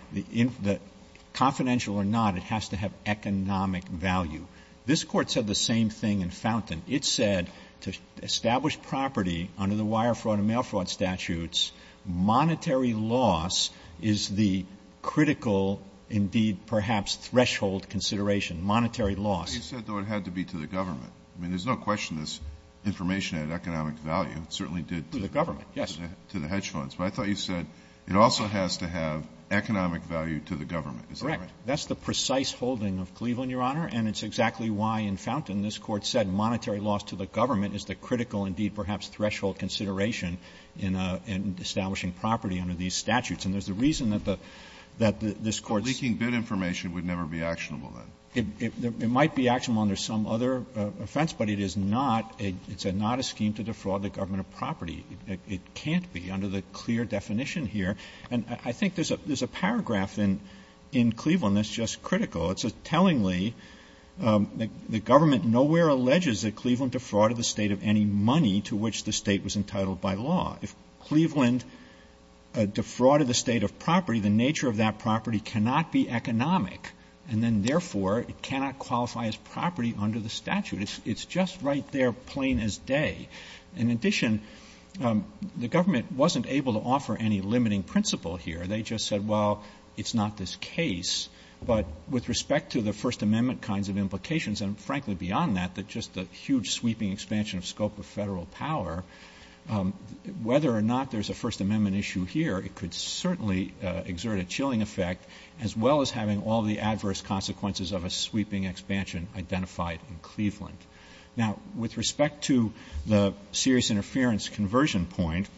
confidential or not, it has to have economic value. This Court said the same thing in Fountain. It said to establish property under the wire fraud and mail fraud statutes, monetary loss is the critical, indeed, perhaps threshold consideration, monetary loss. It said, though, it had to be to the government. I mean, there's no question this information had economic value. It certainly did to the government, to the hedge funds. But I thought you said it also has to have economic value to the government. That's correct. That's the precise holding of Cleveland, Your Honor, and it's exactly why in Fountain this Court said monetary loss to the government is the critical, indeed, perhaps threshold consideration in establishing property under these statutes. And there's a reason that this Court – Leaking bid information would never be actionable, then. It might be actionable under some other offense, but it is not a scheme to defraud the government of property. It can't be under the clear definition here. And I think there's a paragraph in Cleveland that's just critical. It says, tellingly, the government nowhere alleges that Cleveland defrauded the state of any money to which the state was entitled by law. If Cleveland defrauded the state of property, the nature of that property cannot be economic, and then, therefore, it cannot qualify as property under the statute. It's just right there, plain as day. In addition, the government wasn't able to offer any limiting principle here. They just said, well, it's not this case. But with respect to the First Amendment kinds of implications and, frankly, beyond that, just the huge sweeping expansion of scope of federal power, whether or not there's a First Amendment issue here, it could certainly exert a chilling effect, as well as having all the adverse consequences of a sweeping expansion identified in Cleveland. Now, with respect to the serious interference conversion point,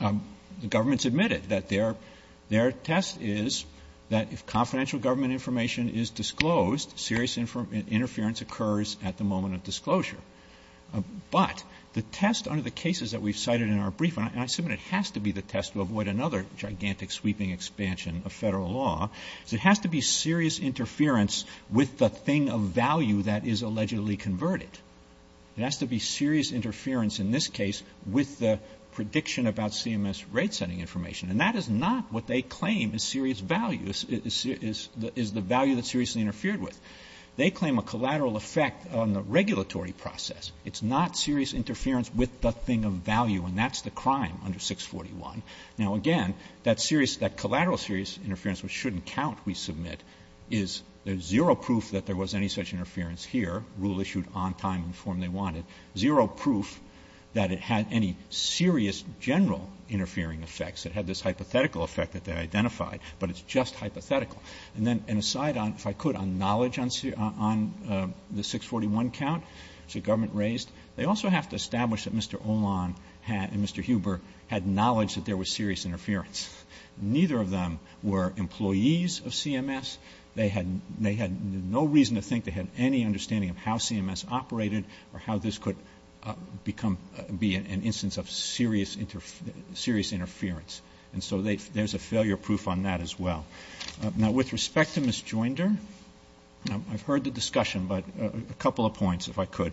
the government's admitted that their test is that if confidential government information is disclosed, serious interference occurs at the moment of disclosure. But the test under the cases that we've cited in our brief, and I assume it has to be the test to avoid another gigantic sweeping expansion of federal law, it has to be serious interference with the thing of value that is allegedly converted. It has to be serious interference, in this case, with the prediction about CMS rate setting information. And that is not what they claim is serious value, is the value that's seriously interfered with. They claim a collateral effect on the regulatory process. It's not serious interference with the thing of value, and that's the crime under 641. Now, again, that collateral serious interference, which shouldn't count, we submit, is there's zero proof that there was any such interference here, rule issued on time and form they wanted, zero proof that it had any serious general interfering effects. It had this hypothetical effect that they identified, but it's just hypothetical. And then an aside, if I could, on knowledge on the 641 count the government raised, they also have to establish that Mr. Olan and Mr. Huber had knowledge that there was serious interference. Neither of them were employees of CMS. They had no reason to think they had any understanding of how CMS operated or how this could be an instance of serious interference. And so there's a failure proof on that as well. Now, with respect to Ms. Joinder, I've heard the discussion, but a couple of points, if I could.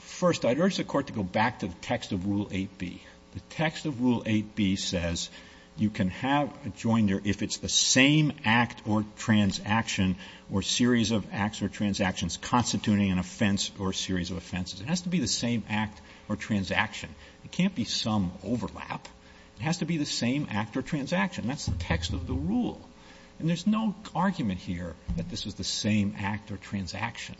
First, I'd urge the Court to go back to the text of Rule 8B. The text of Rule 8B says you can have a joinder if it's the same act or transaction or series of acts or transactions constituting an offense or series of offenses. It has to be the same act or transaction. It can't be some overlap. It has to be the same act or transaction. That's the text of the rule. And there's no argument here that this is the same act or transaction.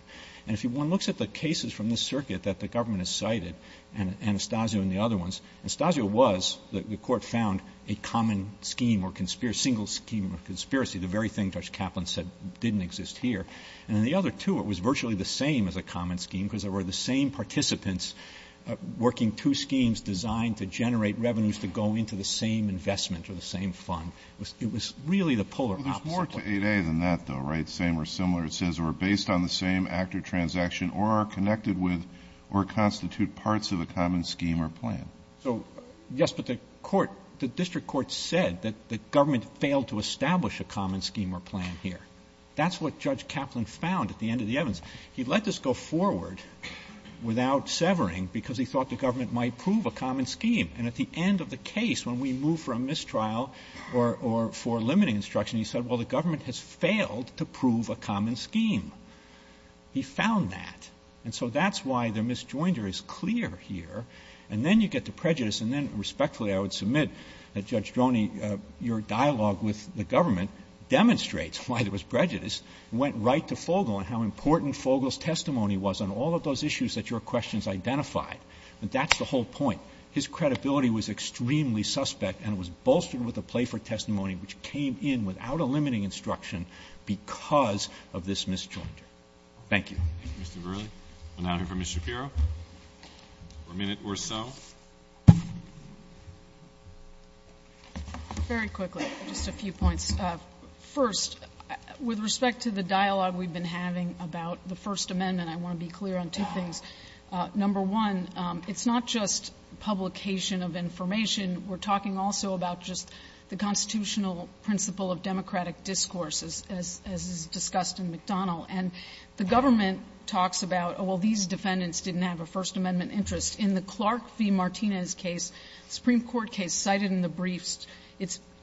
And if one looks at the cases from this circuit that the government has cited, and Anastasia and the other ones, Anastasia was that the Court found a common scheme or single scheme of conspiracy, the very thing Judge Kaplan said didn't exist here. And in the other two, it was virtually the same as a common scheme because there were the same participants working two schemes designed to generate revenues to go into the same investment or the same fund. It was really the polar opposite. It was more to 8A than that, though, right? So yes, but the District Court said that the government failed to establish a common scheme or plan here. That's what Judge Kaplan found at the end of the evidence. He let this go forward without severing because he thought the government might prove a common scheme. And at the end of the case, when we move for a mistrial or for limiting instruction, he said, well, the government has failed to prove a common scheme. He found that. And so that's why the misjoinder is clear here. And then you get the prejudice, and then respectfully I would submit that Judge Droney, your dialogue with the government demonstrates why there was prejudice. It went right to Fogel and how important Fogel's testimony was on all of those issues that your questions identified. That's the whole point. So his credibility was extremely suspect and was bolstered with a Playford testimony, which came in without a limiting instruction because of this misjoinder. Thank you. Thank you, Mr. Verrilli. An item for Ms. Shapiro? For a minute or so. Very quickly, just a few points. First, with respect to the dialogue we've been having about the First Amendment, I want to be clear on two things. Number one, it's not just publication of information. We're talking also about just the constitutional principle of democratic discourse, as is discussed in McDonald. And the government talks about, oh, well, these defendants didn't have a First Amendment interest. In the Clark v. Martinez case, Supreme Court case cited in the briefs,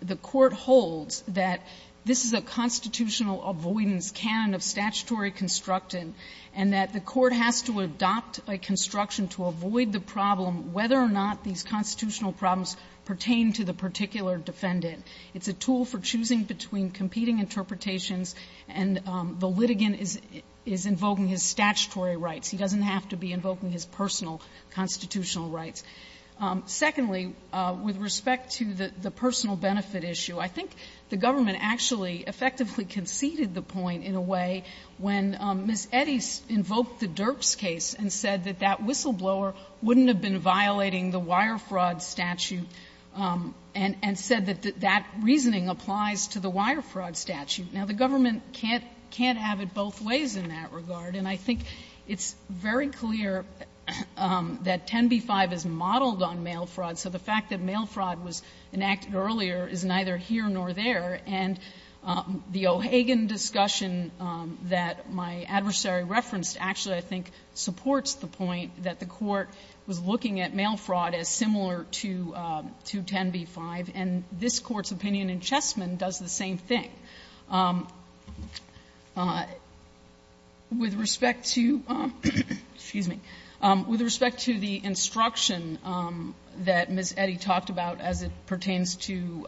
the court holds that this is a constitutional avoidance canon of statutory construction and that the court has to adopt a construction to avoid the problem, whether or not these constitutional problems pertain to the particular defendant. It's a tool for choosing between competing interpretations, and the litigant is invoking his statutory rights. He doesn't have to be invoking his personal constitutional rights. Secondly, with respect to the personal benefit issue, I think the government actually effectively conceded the point in a way when Ms. Eddy invoked the Derps case and said that that whistleblower wouldn't have been violating the wire fraud statute and said that that reasoning applies to the wire fraud statute. Now, the government can't have it both ways in that regard, and I think it's very clear that 10b-5 is modeled on mail fraud, so the fact that mail fraud was enacted earlier is neither here nor there, and the O'Hagan discussion that my adversary referenced actually, I think, supports the point that the court was looking at mail fraud as similar to 10b-5, and this court's opinion in Chessman does the same thing. With respect to the instruction that Ms. Eddy talked about as it pertains to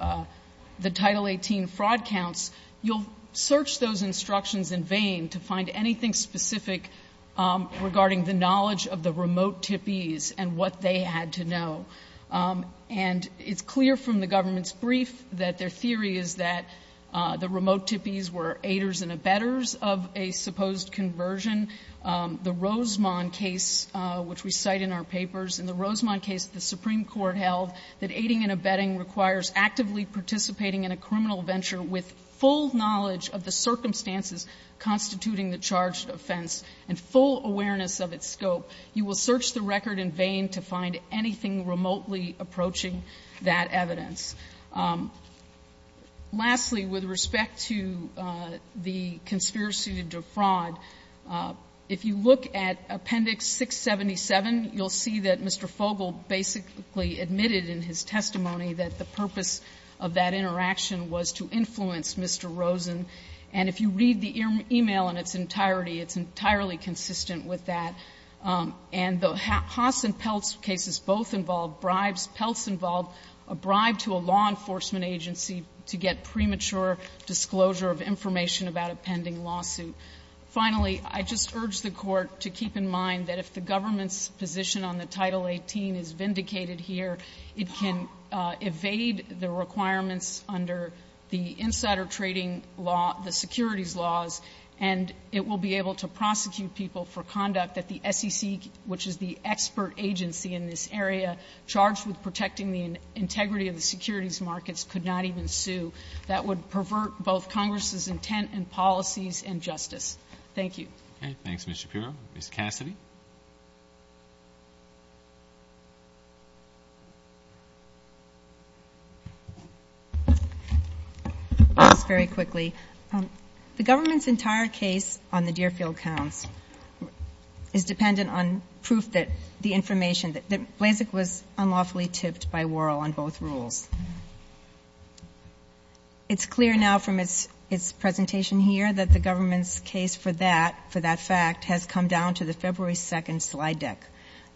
the Title 18 fraud counts, you'll search those instructions in vain to find anything specific regarding the knowledge of the remote tippees and what they had to know, and it's clear from the government's brief that their theory is that the remote tippees were aiders and abettors of a supposed conversion. The Rosemond case, which we cite in our papers, in the Rosemond case, the Supreme Court held that aiding and abetting requires actively participating in a criminal venture with full knowledge of the circumstances constituting the charged offense and full awareness of its scope. You will search the record in vain to find anything remotely approaching that evidence. Lastly, with respect to the conspiracy to defraud, if you look at Appendix 677, you'll see that Mr. Fogle basically admitted in his testimony that the purpose of that interaction was to influence Mr. Rosen, and if you read the email in its entirety, it's entirely consistent with that, and the Haas and Peltz cases both involve bribes. Peltz involved a bribe to a law enforcement agency to get premature disclosure of information about a pending lawsuit. Finally, I just urge the Court to keep in mind that if the government's position on the Title 18 is vindicated here, it can evade the requirements under the insider trading law, the securities laws, and it will be able to prosecute people for conduct that the SEC, which is the expert agency in this area, charged with protecting the integrity of the securities markets could not even sue. That would pervert both Congress's intent and policies and justice. Thank you. Very quickly. The government's entire case on the Deerfield Count is dependent on proof that the information, that Blazek was unlawfully tipped by Worrell on both rules. It's clear now from its presentation here that the government's case for that fact has come down to the February 2,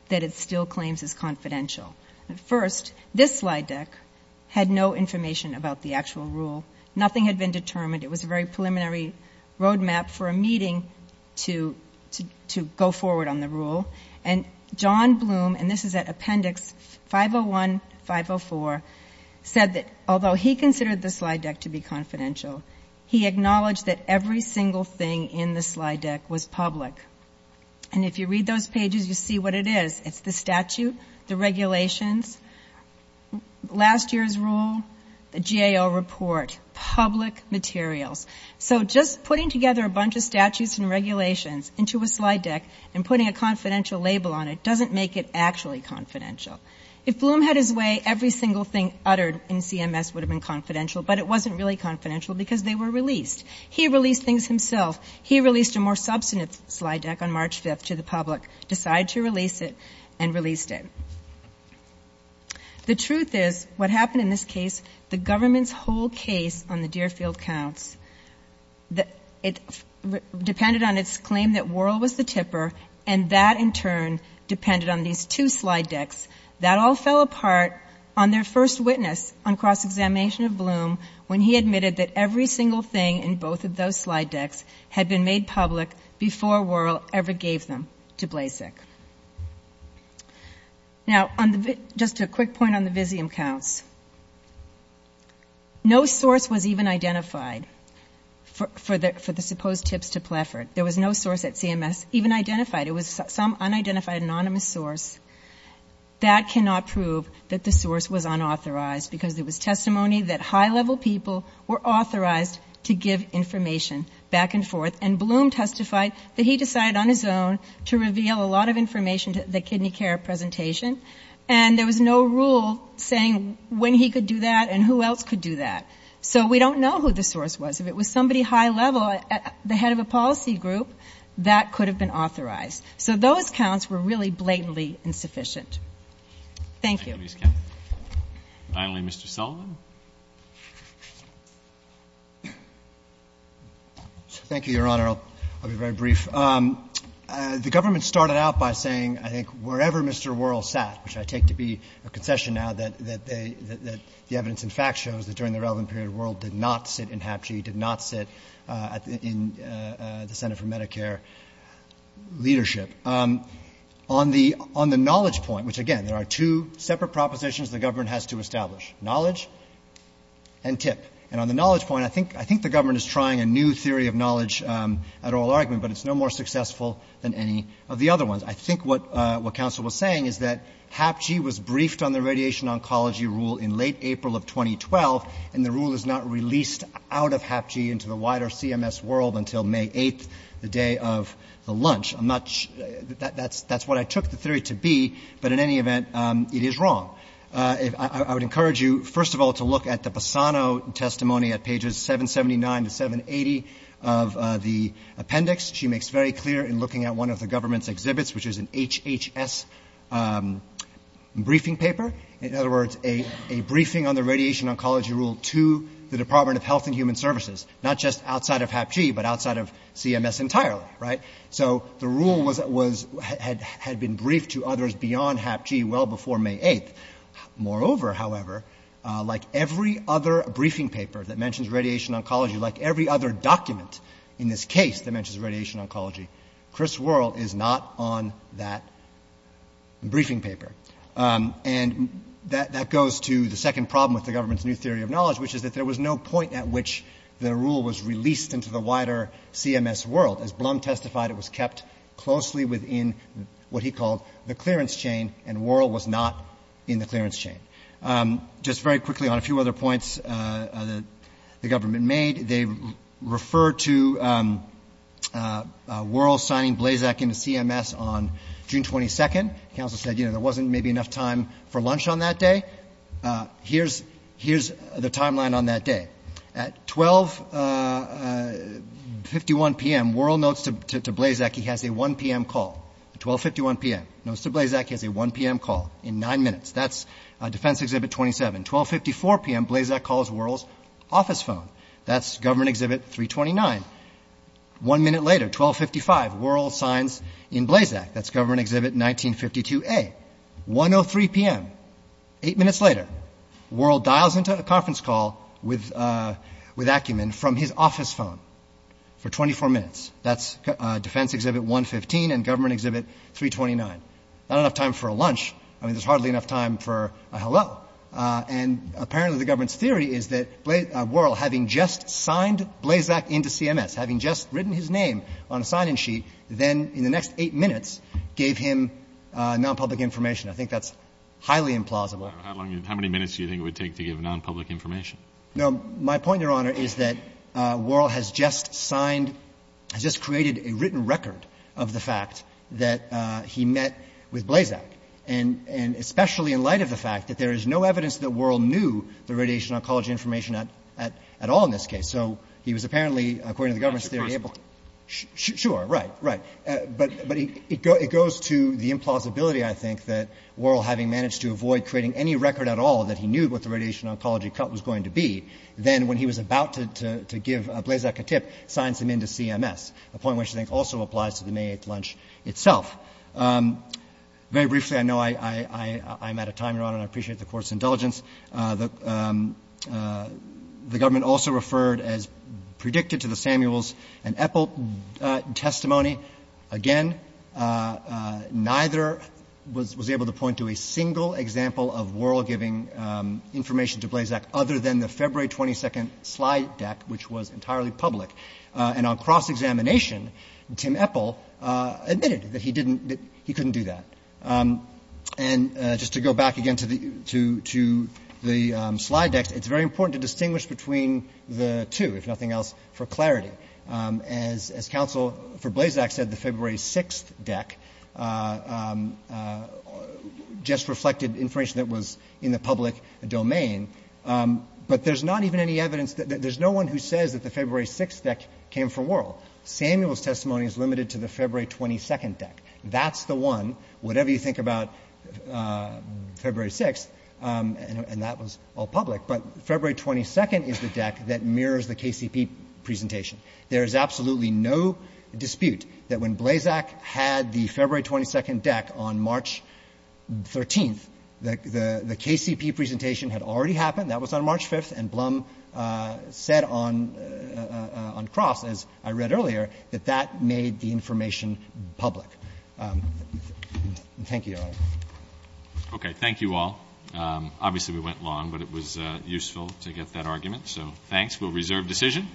that it still claims is confidential. First, this slide deck had no information about the actual rule. Nothing had been determined. It was a very preliminary roadmap for a meeting to go forward on the rule. And John Bloom, and this is at Appendix 501, 504, said that although he considered the slide deck to be confidential, he acknowledged that every single thing in the slide deck was public. And if you read those pages, you see what it is. It's the statute, the regulations, last year's rule, the GAO report, public materials. So just putting together a bunch of statutes and regulations into a slide deck and putting a confidential label on it doesn't make it actually confidential. If Bloom had his way, every single thing uttered in CMS would have been confidential, but it wasn't really confidential because they were released. He released things himself. He released a more substantive slide deck on March 5 to the public, decided to release it, and released it. The truth is, what happened in this case, the government's whole case on the Deerfield Counts, it depended on its claim that Worrell was the tipper, and that, in turn, depended on these two slide decks. That all fell apart on their first witness on cross-examination of Bloom when he admitted that every single thing in both of those slide decks had been made public before Worrell ever gave them to Blasek. Now, just a quick point on the Visium Counts. No source was even identified for the supposed tips to Pleffert. There was no source at CMS even identified. It was some unidentified anonymous source. That cannot prove that the source was unauthorized, because it was testimony that high-level people were authorized to give information back and forth, and Bloom testified that he decided on his own to reveal a lot of information to the kidney care presentation, and there was no rule saying when he could do that and who else could do that. So we don't know who the source was. If it was somebody high-level, the head of a policy group, that could have been authorized. So those counts were really blatantly insufficient. Thank you. Finally, Mr. Sullivan. Thank you, Your Honor. I'll be very brief. The government started out by saying, I think, wherever Mr. Worrell sat, which I take to be a concession now that the evidence in fact shows that during the relevant period, Mr. Worrell did not sit in HAPG, did not sit in the Senate for Medicare leadership. On the knowledge point, which, again, there are two separate propositions the government has to establish, knowledge and tip. And on the knowledge point, I think the government is trying a new theory of knowledge at oral argument, but it's no more successful than any of the other ones. I think what counsel was saying is that HAPG was briefed on the radiation oncology rule in late April of 2012, and the rule is not released out of HAPG into the wider CMS world until May 8th, the day of the lunch. That's what I took the theory to be, but in any event, it is wrong. I would encourage you, first of all, to look at the Bassano testimony at pages 779 to 780 of the appendix. She makes very clear in looking at one of the government's exhibits, which is an HHS briefing paper. In other words, a briefing on the radiation oncology rule to the Department of Health and Human Services, not just outside of HAPG, but outside of CMS entirely, right? So the rule had been briefed to others beyond HAPG well before May 8th. Moreover, however, like every other briefing paper that mentions radiation oncology, like every other document in this case that mentions radiation oncology, Chris Worrell is not on that briefing paper. And that goes to the second problem with the government's new theory of knowledge, which is that there was no point at which the rule was released into the wider CMS world. As Blum testified, it was kept closely within what he called the clearance chain, and Worrell was not in the clearance chain. Just very quickly on a few other points the government made, they referred to Worrell signing Blazak into CMS on June 22nd. Counsel said, you know, there wasn't maybe enough time for lunch on that day. Here's the timeline on that day. At 1251 p.m., Worrell notes to Blazak he has a 1 p.m. call. 1251 p.m., notes to Blazak he has a 1 p.m. call in nine minutes. That's Defense Exhibit 27. 1254 p.m., Blazak calls Worrell's office phone. That's Government Exhibit 329. One minute later, 1255, Worrell signs in Blazak. That's Government Exhibit 1952A. 103 p.m., eight minutes later, Worrell dials into a conference call with Ackerman from his office phone for 24 minutes. That's Defense Exhibit 115 and Government Exhibit 329. Not enough time for a lunch. There's hardly enough time for a hello. And apparently the government's theory is that Worrell, having just signed Blazak into CMS, having just written his name on a sign-in sheet, then in the next eight minutes gave him non-public information. I think that's highly implausible. How many minutes do you think it would take to give non-public information? My point, Your Honor, is that Worrell has just signed, has just created a written record of the fact that he met with Blazak, and especially in light of the fact that there is no evidence that Worrell knew the radiation oncology information at all in this case. So he was apparently, according to the government's theory, Sure, right, right. But it goes to the implausibility, I think, that Worrell, having managed to avoid creating any record at all that he knew what the radiation oncology cut was going to be, then when he was about to give Blazak a tip, signed him into CMS, a point which I think also applies to the May 8th lunch itself. Very briefly, I know I'm out of time, Your Honor, and I appreciate the Court's indulgence. The government also referred as predicted to the Samuels and Eppel testimony. Again, neither was able to point to a single example of Worrell giving information to Blazak other than the February 22nd slide deck, which was entirely public. And on cross-examination, Tim Eppel admitted that he couldn't do that. And just to go back again to the slide deck, it's very important to distinguish between the two, if nothing else, for clarity. As counsel for Blazak said, the February 6th deck just reflected information that was in the public domain. But there's not even any evidence, there's no one who says that the February 6th deck came from Worrell. Samuel's testimony is limited to the February 22nd deck. That's the one, whatever you think about February 6th, and that was all public. But February 22nd is the deck that mirrors the KCP presentation. There's absolutely no dispute that when Blazak had the February 22nd deck on March 13th, the KCP presentation had already happened, that was on March 5th, and Blum said on cross, as I read earlier, that that made the information public. Thank you. Okay, thank you all. Obviously we went long, but it was useful to get that argument, so thanks. We'll reserve decision.